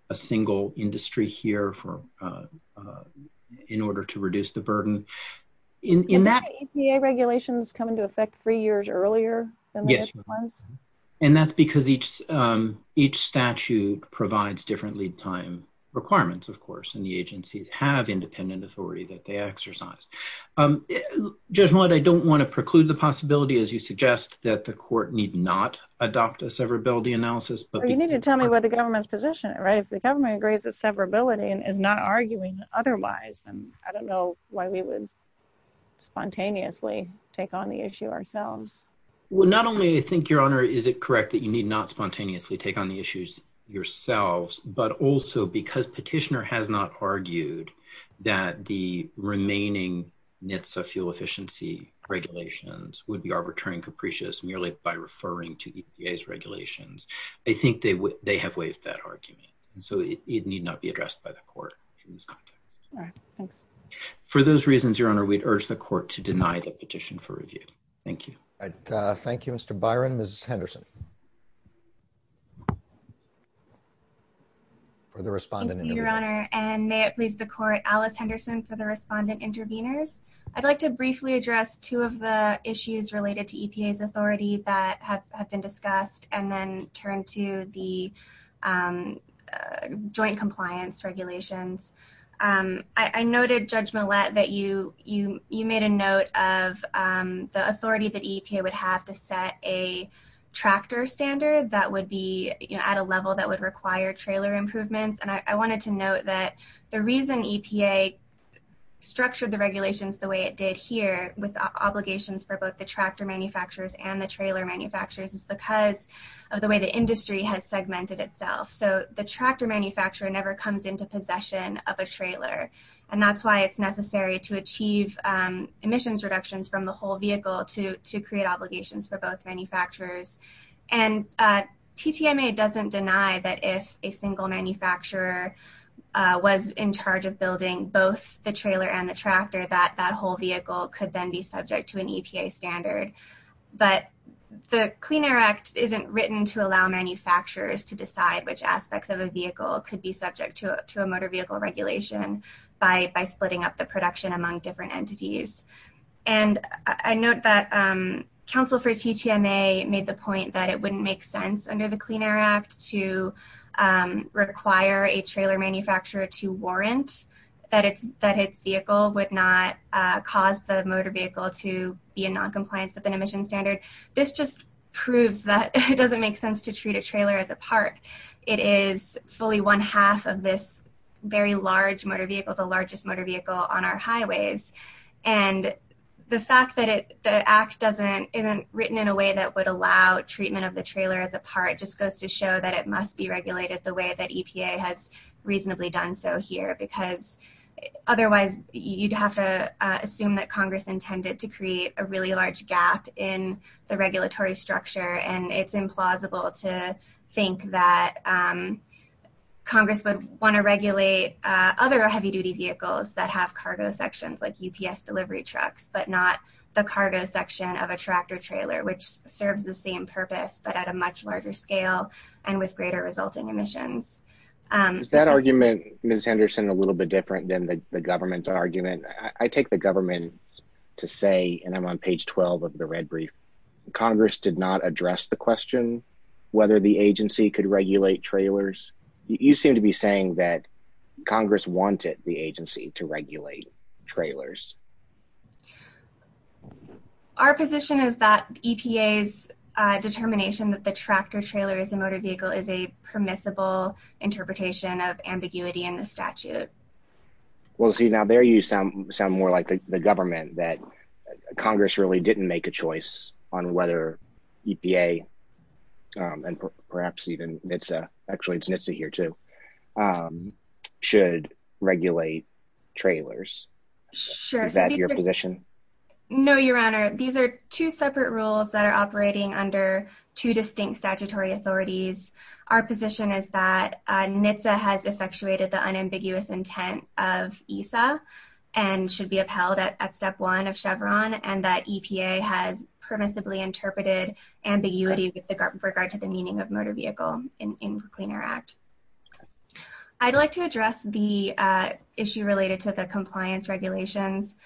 a single industry here in order to reduce the burden. Did the EPA regulations come into effect three years earlier than the NHTSA ones? Yes, and that's because each statute provides different lead time requirements, of course, and the agencies have independent authority that they exercise. Judge Millett, I don't want to preclude the possibility, as you suggest, that the court need not adopt a severability analysis. You need to tell me what the government's position, right? If the government agrees that severability and is not arguing otherwise, then I don't know why we would spontaneously take on the issue ourselves. Well, not only, I think, Your Honor, is it correct that you need not spontaneously take on the issues yourselves, but also because Petitioner has not argued that the remaining NHTSA fuel efficiency regulations would be arbitrary and capricious merely by referring to EPA's regulations. I think they have waived that argument, so it need not be addressed by the court in this context. All right, thanks. For those reasons, Your Honor, we'd urge the court to deny the petition for review. Thank you. Thank you, Mr. Byron. Ms. Henderson? For the respondent. Thank you, Your Honor, and may it please the court, Alice Henderson for the respondent interveners. I'd like to briefly address two of the issues related to EPA's authority that have been discussed and then turn to the joint compliance regulations. I noted, Judge Millett, that you made a note of the authority that EPA would have to set a tractor standard that would be at a level that would require trailer improvements, and I wanted to note that the reason EPA structured the regulations the way it did here with obligations for both the tractor manufacturers and the trailer manufacturers is because of the way the industry has segmented itself. So the tractor manufacturer never comes into possession of a trailer, and that's why it's necessary to achieve emissions reductions from the whole vehicle to create obligations for both manufacturers. And TTMA doesn't deny that if a single manufacturer was in charge of building both the trailer and the tractor, that that whole vehicle could then be subject to an EPA standard. But the Clean Air Act isn't written to allow manufacturers to decide which aspects of a vehicle could be subject to a motor regulation by splitting up the production among different entities. And I note that counsel for TTMA made the point that it wouldn't make sense under the Clean Air Act to require a trailer manufacturer to warrant that its vehicle would not cause the motor vehicle to be in non-compliance with an emission standard. This just proves that it is a very large motor vehicle, the largest motor vehicle on our highways. And the fact that the Act isn't written in a way that would allow treatment of the trailer as a part just goes to show that it must be regulated the way that EPA has reasonably done so here, because otherwise you'd have to assume that Congress intended to create a really large gap in the other heavy-duty vehicles that have cargo sections like UPS delivery trucks, but not the cargo section of a tractor trailer, which serves the same purpose, but at a much larger scale and with greater resulting emissions. Is that argument, Ms. Anderson, a little bit different than the government's argument? I take the government to say, and I'm on page 12 of the red brief, Congress did not address the question whether the agency could regulate trailers. You seem to be saying that Congress wanted the agency to regulate trailers. Our position is that EPA's determination that the tractor trailer is a motor vehicle is a permissible interpretation of ambiguity in the statute. Well, see, now there you sound more like the government, that Congress really didn't make a decision whether EPA, and perhaps even NHTSA, actually it's NHTSA here too, should regulate trailers. Is that your position? No, Your Honor. These are two separate rules that are operating under two distinct statutory authorities. Our position is that NHTSA has effectuated the unambiguous intent of ESA and should be upheld at step one of Chevron, and that EPA has permissibly interpreted ambiguity with regard to the meaning of motor vehicle in the Clean Air Act. I'd like to address the issue related to the compliance regulations.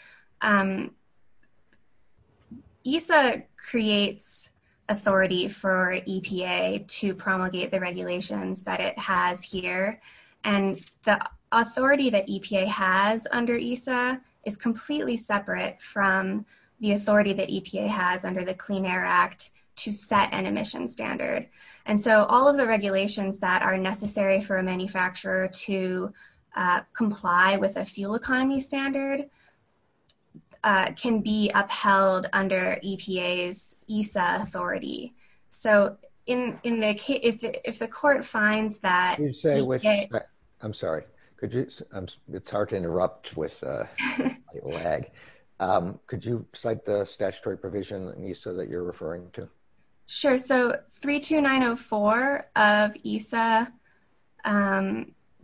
ESA creates authority for EPA to promulgate the regulations that it has here, and the authority that EPA has under ESA is completely separate from the authority that EPA has under the Clean Air Act to set an emission standard. And so all of the regulations that are necessary for a manufacturer to comply with a fuel economy standard can be upheld under EPA's ESA authority. So if the court finds that... I'm sorry. It's hard to interrupt with lag. Could you cite the statutory provision in that you're referring to? Sure. So 32904 of ESA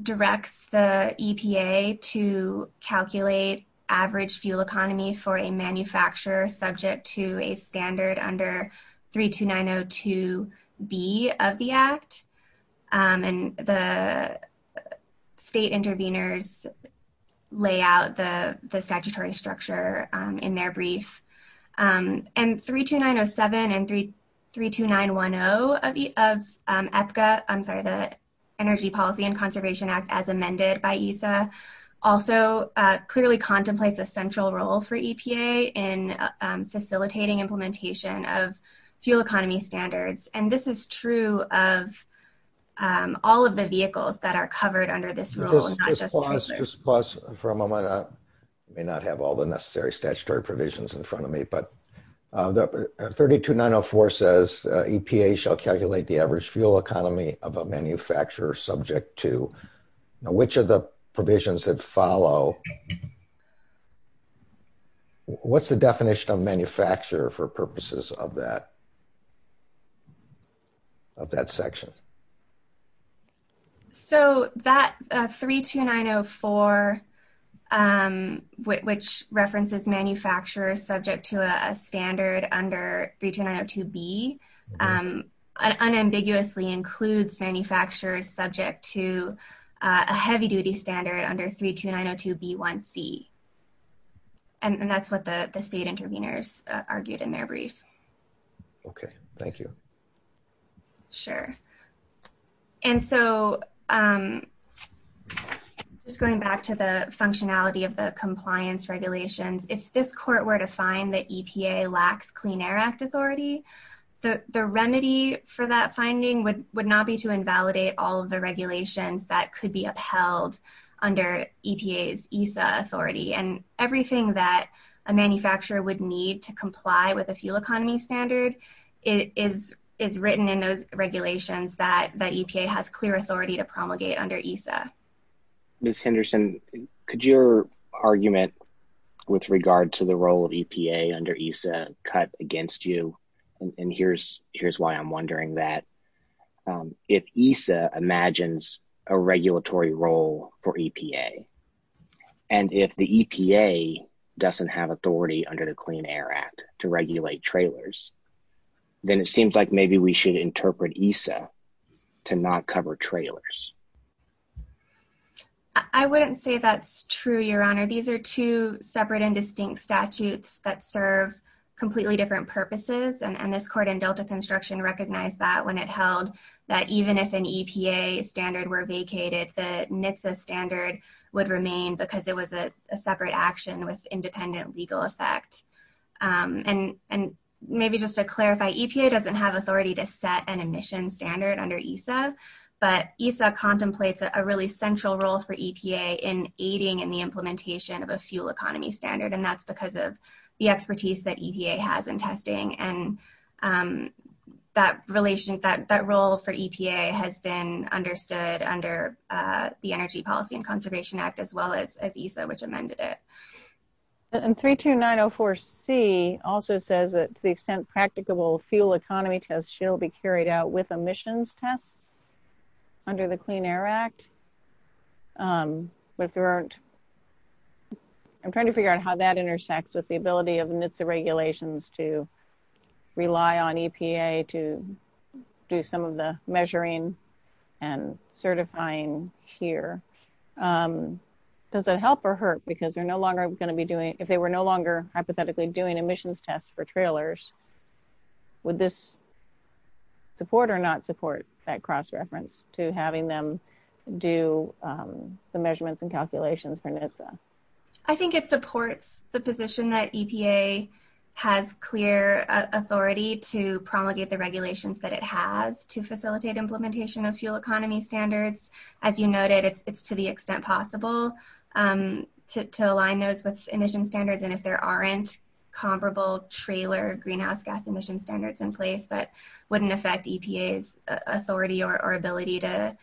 directs the EPA to calculate average fuel economy for a manufacturer subject to a standard under 32902B of the Act, and the state intervenors lay out the 32907 and 32910 of EPCA – I'm sorry, the Energy Policy and Conservation Act as amended by ESA also clearly contemplates a central role for EPA in facilitating implementation of fuel economy standards. And this is true of all of the vehicles that are covered under this rule, not just... Just pause for a moment. I may not have all the necessary statutory provisions in front of me, but the 32904 says EPA shall calculate the average fuel economy of a manufacturer subject to... Which of the provisions that follow... What's the definition of manufacturer for purposes of that section? So that 32904, which references manufacturers subject to a standard under 32902B, unambiguously includes manufacturers subject to a heavy-duty standard under 32902B1C, and that's what the state intervenors argued in their brief. Okay. Thank you. Sure. And so just going back to the functionality of the compliance regulations, if this court were to find that EPA lacks Clean Air Act authority, the remedy for that finding would not be to invalidate all of the regulations that could be upheld under EPA's ESA authority, and everything that a manufacturer would need to comply with a fuel economy standard is written in those regulations that EPA has clear authority to promulgate under ESA. Ms. Henderson, could your argument with regard to the role of EPA under ESA cut against you? And here's why I'm wondering that. If ESA imagines a regulatory role for EPA, and if the EPA doesn't have authority under the Clean Air Act to regulate trailers, then it seems like maybe we should interpret ESA to not cover trailers. I wouldn't say that's true, Your Honor. These are two separate and distinct statutes that serve completely different purposes, and this court in Delta Construction recognized that when it held that even if an EPA standard were vacated, the NHTSA standard would remain because it was a separate action with independent legal effect. And maybe just to clarify, EPA doesn't have authority to set an emission standard under ESA, but ESA contemplates a really central role for EPA in aiding in the implementation of a fuel economy standard, and that's because of the expertise that EPA has in testing. And that role for EPA has been understood under the Energy Policy and Conservation Act as well as ESA, which amended it. And 32904C also says that to the extent practicable fuel economy tests should be carried out with emissions tests under the Clean Air Act. I'm trying to figure out how that NHTSA regulations to rely on EPA to do some of the measuring and certifying here. Does it help or hurt because they're no longer going to be doing, if they were no longer hypothetically doing emissions tests for trailers, would this support or not support that cross-reference to having them do the measurements and calculations for NHTSA? I think it supports the position that EPA has clear authority to promulgate the regulations that it has to facilitate implementation of fuel economy standards. As you noted, it's to the extent possible to align those with emission standards. And if there aren't comparable trailer greenhouse gas emission standards in place, that wouldn't affect EPA's authority or ability to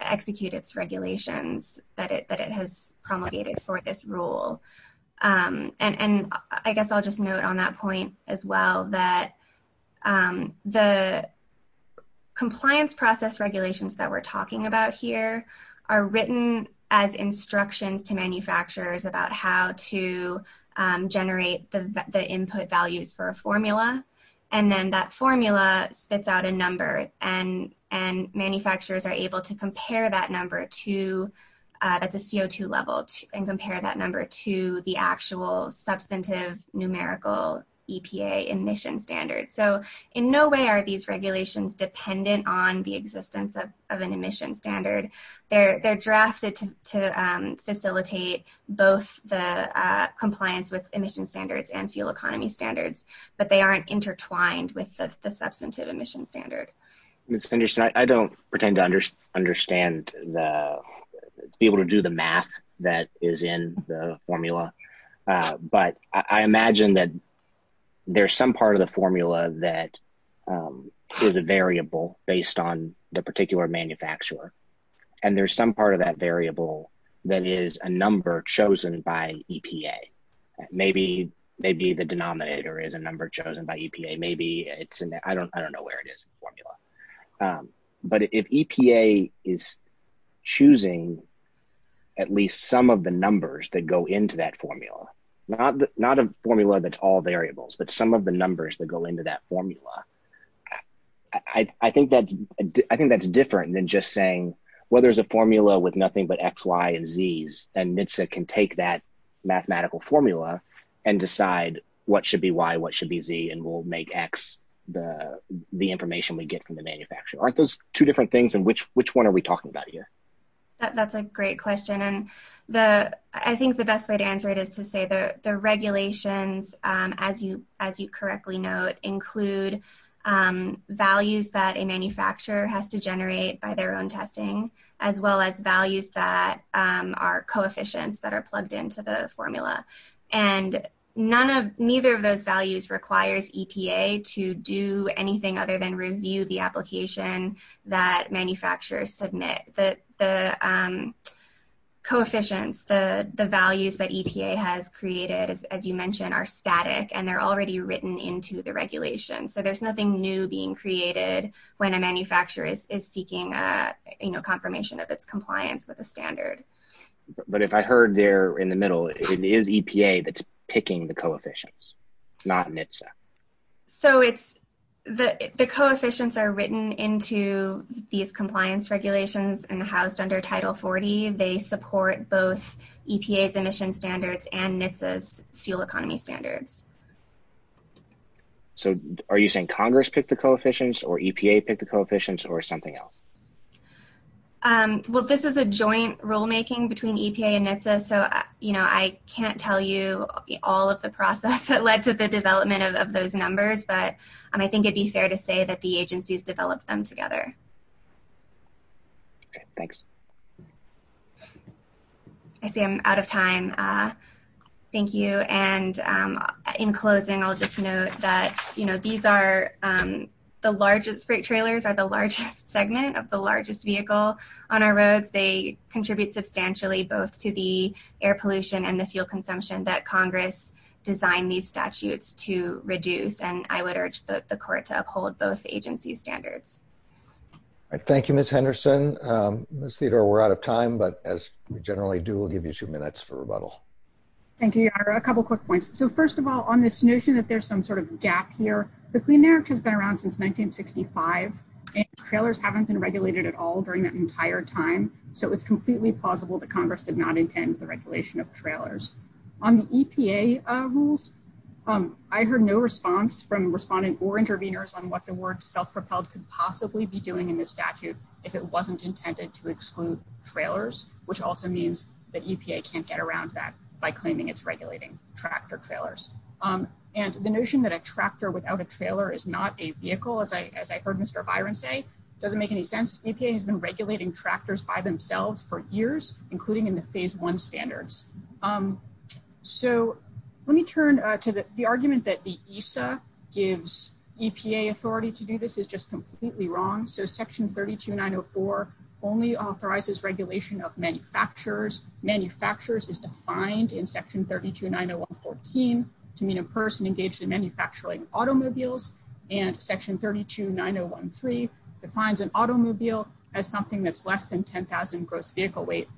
execute its regulations that it has promulgated for this rule. And I guess I'll just note on that point as well that the compliance process regulations that we're talking about here are written as instructions to manufacturers about how to generate the input values for a formula. And then that formula spits out a number and manufacturers are able to compare that number to at the CO2 level and compare that number to the actual substantive numerical EPA emission standards. So in no way are these regulations dependent on the existence of an emission standard. They're drafted to facilitate both the compliance with emission standards and fuel economy standards, but they aren't intertwined with the substantive emission standard. Ms. Henderson, I don't pretend to understand to be able to do the math that is in the formula, but I imagine that there's some part of the formula that is a variable based on the particular manufacturer. And there's some part of that variable that is a number chosen by EPA. Maybe the denominator is a number chosen by EPA. I don't know where it is in the formula. But if EPA is choosing at least some of the numbers that go into that formula, not a formula that's all variables, but some of the numbers that go into that formula, I think that's different than just saying, well, there's a formula with nothing but X, Y, and Zs and NHTSA can take that mathematical formula and decide what should be Y, what should be Z, and we'll make X the information we get from the manufacturer. Aren't those two different things? And which one are we talking about here? That's a great question. And I think the best way to answer it is to say the regulations, as you correctly note, include values that a are plugged into the formula. And neither of those values requires EPA to do anything other than review the application that manufacturers submit. The coefficients, the values that EPA has created, as you mentioned, are static and they're already written into the regulation. So there's nothing new being created when a manufacturer is seeking confirmation of its standard. But if I heard there in the middle, it is EPA that's picking the coefficients, not NHTSA. So the coefficients are written into these compliance regulations and housed under Title 40. They support both EPA's emission standards and NHTSA's fuel economy standards. So are you saying Congress picked the coefficients or EPA picked the coefficients or something else? Well, this is a joint rulemaking between EPA and NHTSA, so I can't tell you all of the process that led to the development of those numbers. But I think it'd be fair to say that the agencies developed them together. Okay, thanks. I see I'm out of time. Thank you. And in closing, I'll just note that these are the largest, segment of the largest vehicle on our roads. They contribute substantially both to the air pollution and the fuel consumption that Congress designed these statutes to reduce, and I would urge the court to uphold both agency standards. Thank you, Ms. Henderson. Ms. Theodore, we're out of time, but as we generally do, we'll give you two minutes for rebuttal. Thank you, Your Honor. A couple quick points. So first of all, on this notion that there's some sort of gap here, the Clean Air Act has been around since 1965, and trailers haven't been regulated at all during that entire time. So it's completely plausible that Congress did not intend the regulation of trailers. On the EPA rules, I heard no response from respondents or intervenors on what the word self-propelled could possibly be doing in this statute if it wasn't intended to exclude trailers, which also means that EPA can't get around that by claiming it's regulating tractor-trailers. And the notion that a tractor without a trailer is not a vehicle, as I heard Mr. Byron say, doesn't make any sense. EPA has been regulating tractors by themselves for years, including in the Phase I standards. So let me turn to the argument that the ESA gives EPA authority to do this is just completely wrong. So Section 32904 only authorizes regulation of manufacturers. Manufacturers is defined in Section 32901.14 to mean a person engaged in manufacturing automobiles, and Section 32901.3 defines an automobile as something that's less than 10,000 gross vehicle weight,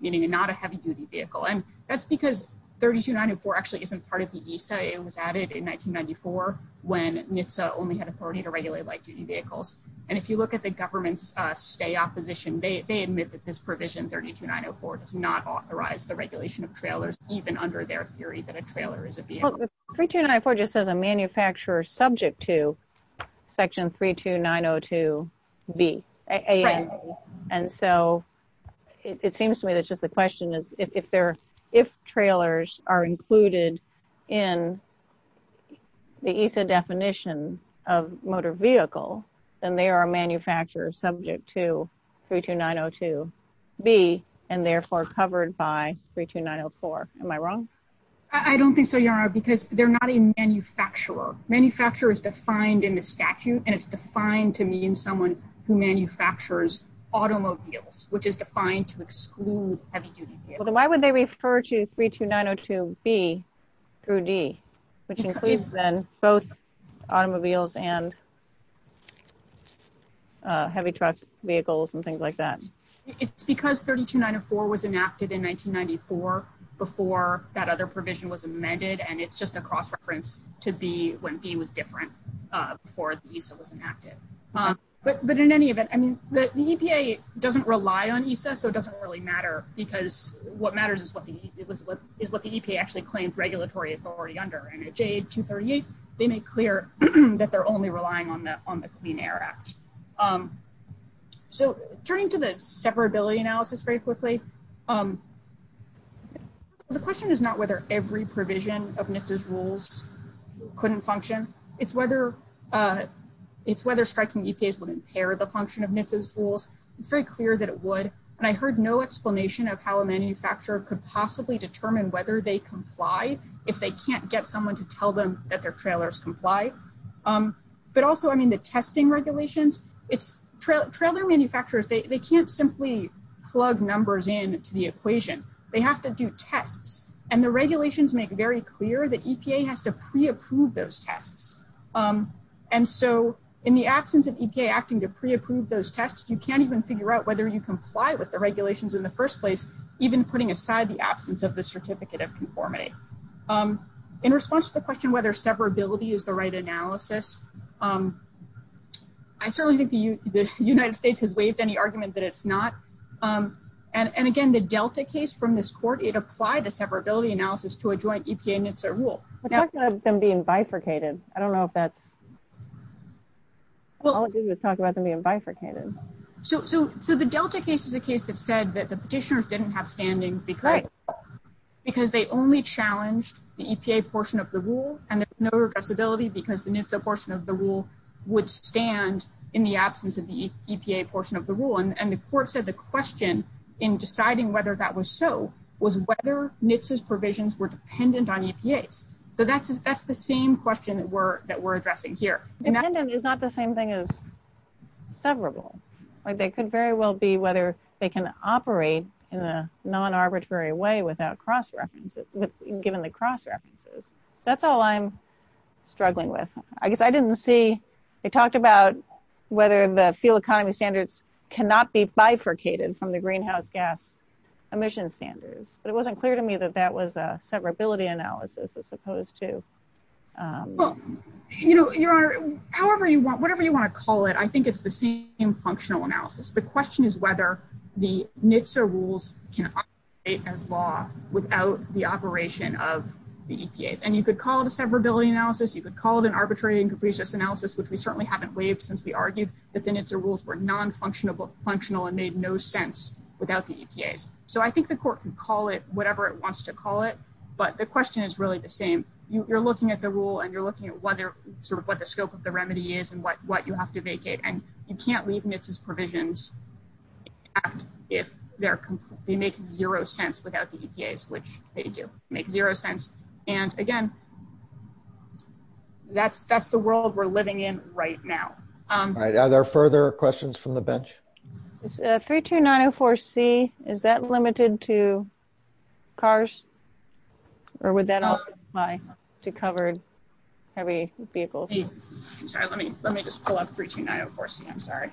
meaning not a heavy-duty vehicle. And that's because 32904 actually isn't part of the ESA. It was added in 1994 when NHTSA only had authority to regulate heavy-duty vehicles. And if you look at the government's stay opposition, they admit that this provision 32904 does not authorize the regulation of trailers, even under their theory that a trailer is a vehicle. 32904 just says a manufacturer subject to Section 32902b. And so it seems to me that's just the question is if trailers are included in the ESA definition of motor vehicle, then they are a manufacturer subject to 32902b and therefore covered by 32904. Am I wrong? I don't think so, Yara, because they're not a manufacturer. Manufacturer is defined in the statute, and it's defined to mean someone who manufactures automobiles, which is defined to exclude heavy-duty vehicles. Why would they refer to 32902b through d, which includes then both automobiles and heavy truck vehicles and things like that? It's because 32904 was enacted in 1994 before that other provision was amended, and it's just a cross-reference to be when b was different before the ESA was enacted. But in any event, I mean, the EPA doesn't rely on ESA, so it doesn't really matter because what matters is what the EPA actually claims regulatory authority under. And at JA238, they make clear that they're only relying on the Clean Air Act. So turning to the separability analysis very quickly, the question is not whether every provision of NHTSA's rules couldn't function. It's whether striking EPAs would impair the function of NHTSA's rules. It's very clear that it would, and I heard no explanation of how a manufacturer could possibly determine whether they comply if they can't get someone to tell them that their trailers comply. But also, I mean, the testing regulations, it's trailer manufacturers, they can't simply plug numbers into the equation. They have to do tests, and the regulations make very clear that EPA has to pre-approve those tests. And so in the absence of EPA acting to pre-approve those tests, you can't even figure out whether you comply with the regulations in the first place, even putting aside the absence of the Certificate of Conformity. In response to the question whether separability is the right analysis, I certainly think the United States has waived any argument that it's not. And again, the Delta case from this court, it applied the separability analysis to a joint EPA-NHTSA rule. We're talking about them being bifurcated. I don't know if that's... All it did was talk about them being bifurcated. So the Delta case is a case that said that the petitioners didn't have standing because they only challenged the EPA portion of the rule, and there's no addressability because the NHTSA portion of the rule would stand in the absence of the EPA portion of the rule. And the court said the question in deciding whether that was so was whether NHTSA's provisions were dependent on EPA's. So that's the same question that we're addressing here. Dependent is not the same thing as severable. They could very well be whether they can operate in a non-arbitrary way without given the cross-references. That's all I'm struggling with. I guess I didn't see... They talked about whether the fuel economy standards cannot be bifurcated from the greenhouse gas emission standards, but it wasn't clear to me that that was a severability analysis as opposed to... Well, Your Honor, however you want, whatever you want to call it, I think it's the same functional analysis. The question is whether the NHTSA rules can operate as law without the operation of the EPAs. And you could call it a severability analysis, you could call it an arbitrary and capricious analysis, which we certainly haven't waived since we argued that the NHTSA rules were non-functional and made no sense without the EPAs. So I think the court can whatever it wants to call it, but the question is really the same. You're looking at the rule and you're looking at what the scope of the remedy is and what you have to vacate. And you can't leave NHTSA's provisions if they make zero sense without the EPAs, which they do make zero sense. And again, that's the world we're living in right now. All right. Are there further questions from the bench? 32904C, is that limited to cars or would that also apply to covered heavy vehicles? Let me just pull up 32904C, I'm sorry.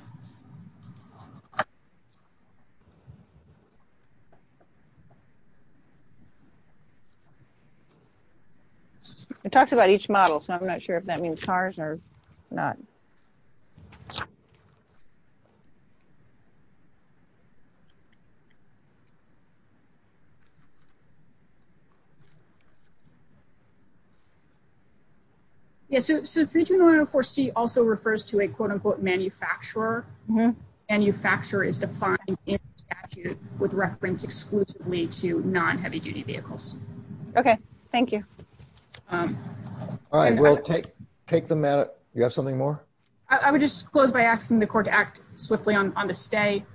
It talks about each model, so I'm not sure if that means cars or not. Yeah. So 32904C also refers to a quote unquote manufacturer. Manufacturer is defined in statute with reference exclusively to non-heavy duty vehicles. Okay. Thank you. All right. We'll take them at it. You have something more? I would just close by asking the court to act swiftly on the stay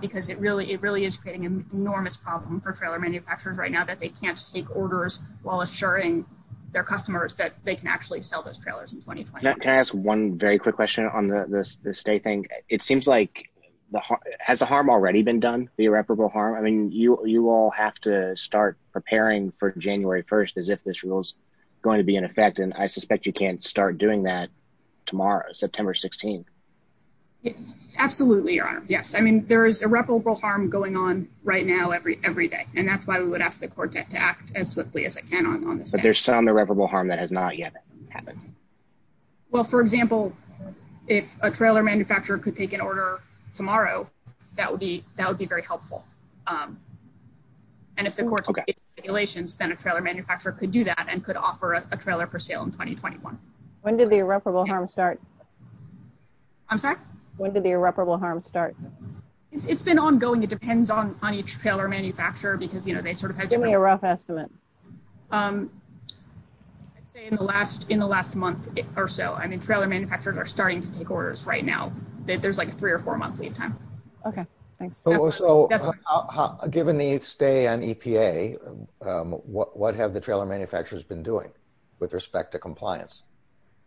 because it really is creating an enormous problem for trailer manufacturers right now that they can't take orders while assuring their customers that they can actually sell those trailers in 2020. Can I ask one very quick question on the stay thing? It seems like has the harm already been done, the irreparable harm? I mean, you all have to start preparing for January 1st as if this rule is going to be in effect, and I suspect you can't start doing that tomorrow, September 16th. Absolutely, your honor. Yes. I mean, there is irreparable harm going on right now every day, and that's why we would ask the court to act as swiftly as it can on the stay. But there's some irreparable harm that has not yet happened. Well, for example, if a trailer manufacturer could take an order tomorrow, that would be very helpful. And if the court's regulations, then a trailer manufacturer could do that and could offer a trailer for sale in 2021. When did the irreparable harm start? I'm sorry? When did the irreparable harm start? It's been ongoing. It depends on each trailer manufacturer because, you know, they sort of had given me a rough estimate. I'd say in the last month or so. I mean, trailer manufacturers are starting to take orders right now. There's like a three or four month lead time. Okay, thanks. So given the stay on EPA, what have the trailer manufacturers been doing with respect to compliance?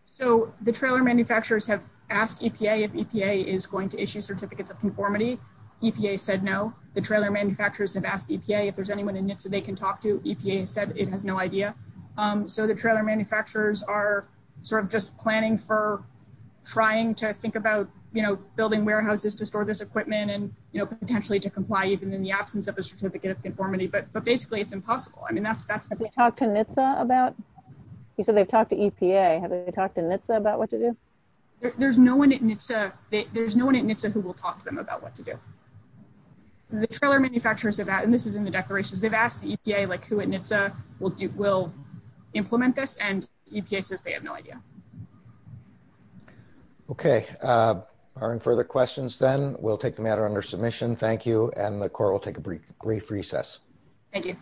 So the trailer manufacturers have asked EPA if EPA is going to issue certificates of conformity. EPA said no. The trailer manufacturers have asked EPA if there's anyone in NHTSA they can talk to. EPA said it has no idea. So the trailer manufacturers are sort of just planning for trying to think about, you know, building warehouses to store this equipment and, you know, potentially to comply even in the absence of a certificate of conformity. But basically it's impossible. I mean, that's the thing. Have they talked to NHTSA about? You said they've talked to EPA. Have they talked to NHTSA about what to do? There's no one at NHTSA. There's no one at NHTSA who will talk to them about what to do. The trailer manufacturers have asked, and this is in the declarations, they've asked the EPA, like who at NHTSA will implement this, and EPA says they have no idea. Okay. Are there any further questions then? We'll take the matter under submission. Thank you. And the Corps will take a brief recess. Thank you.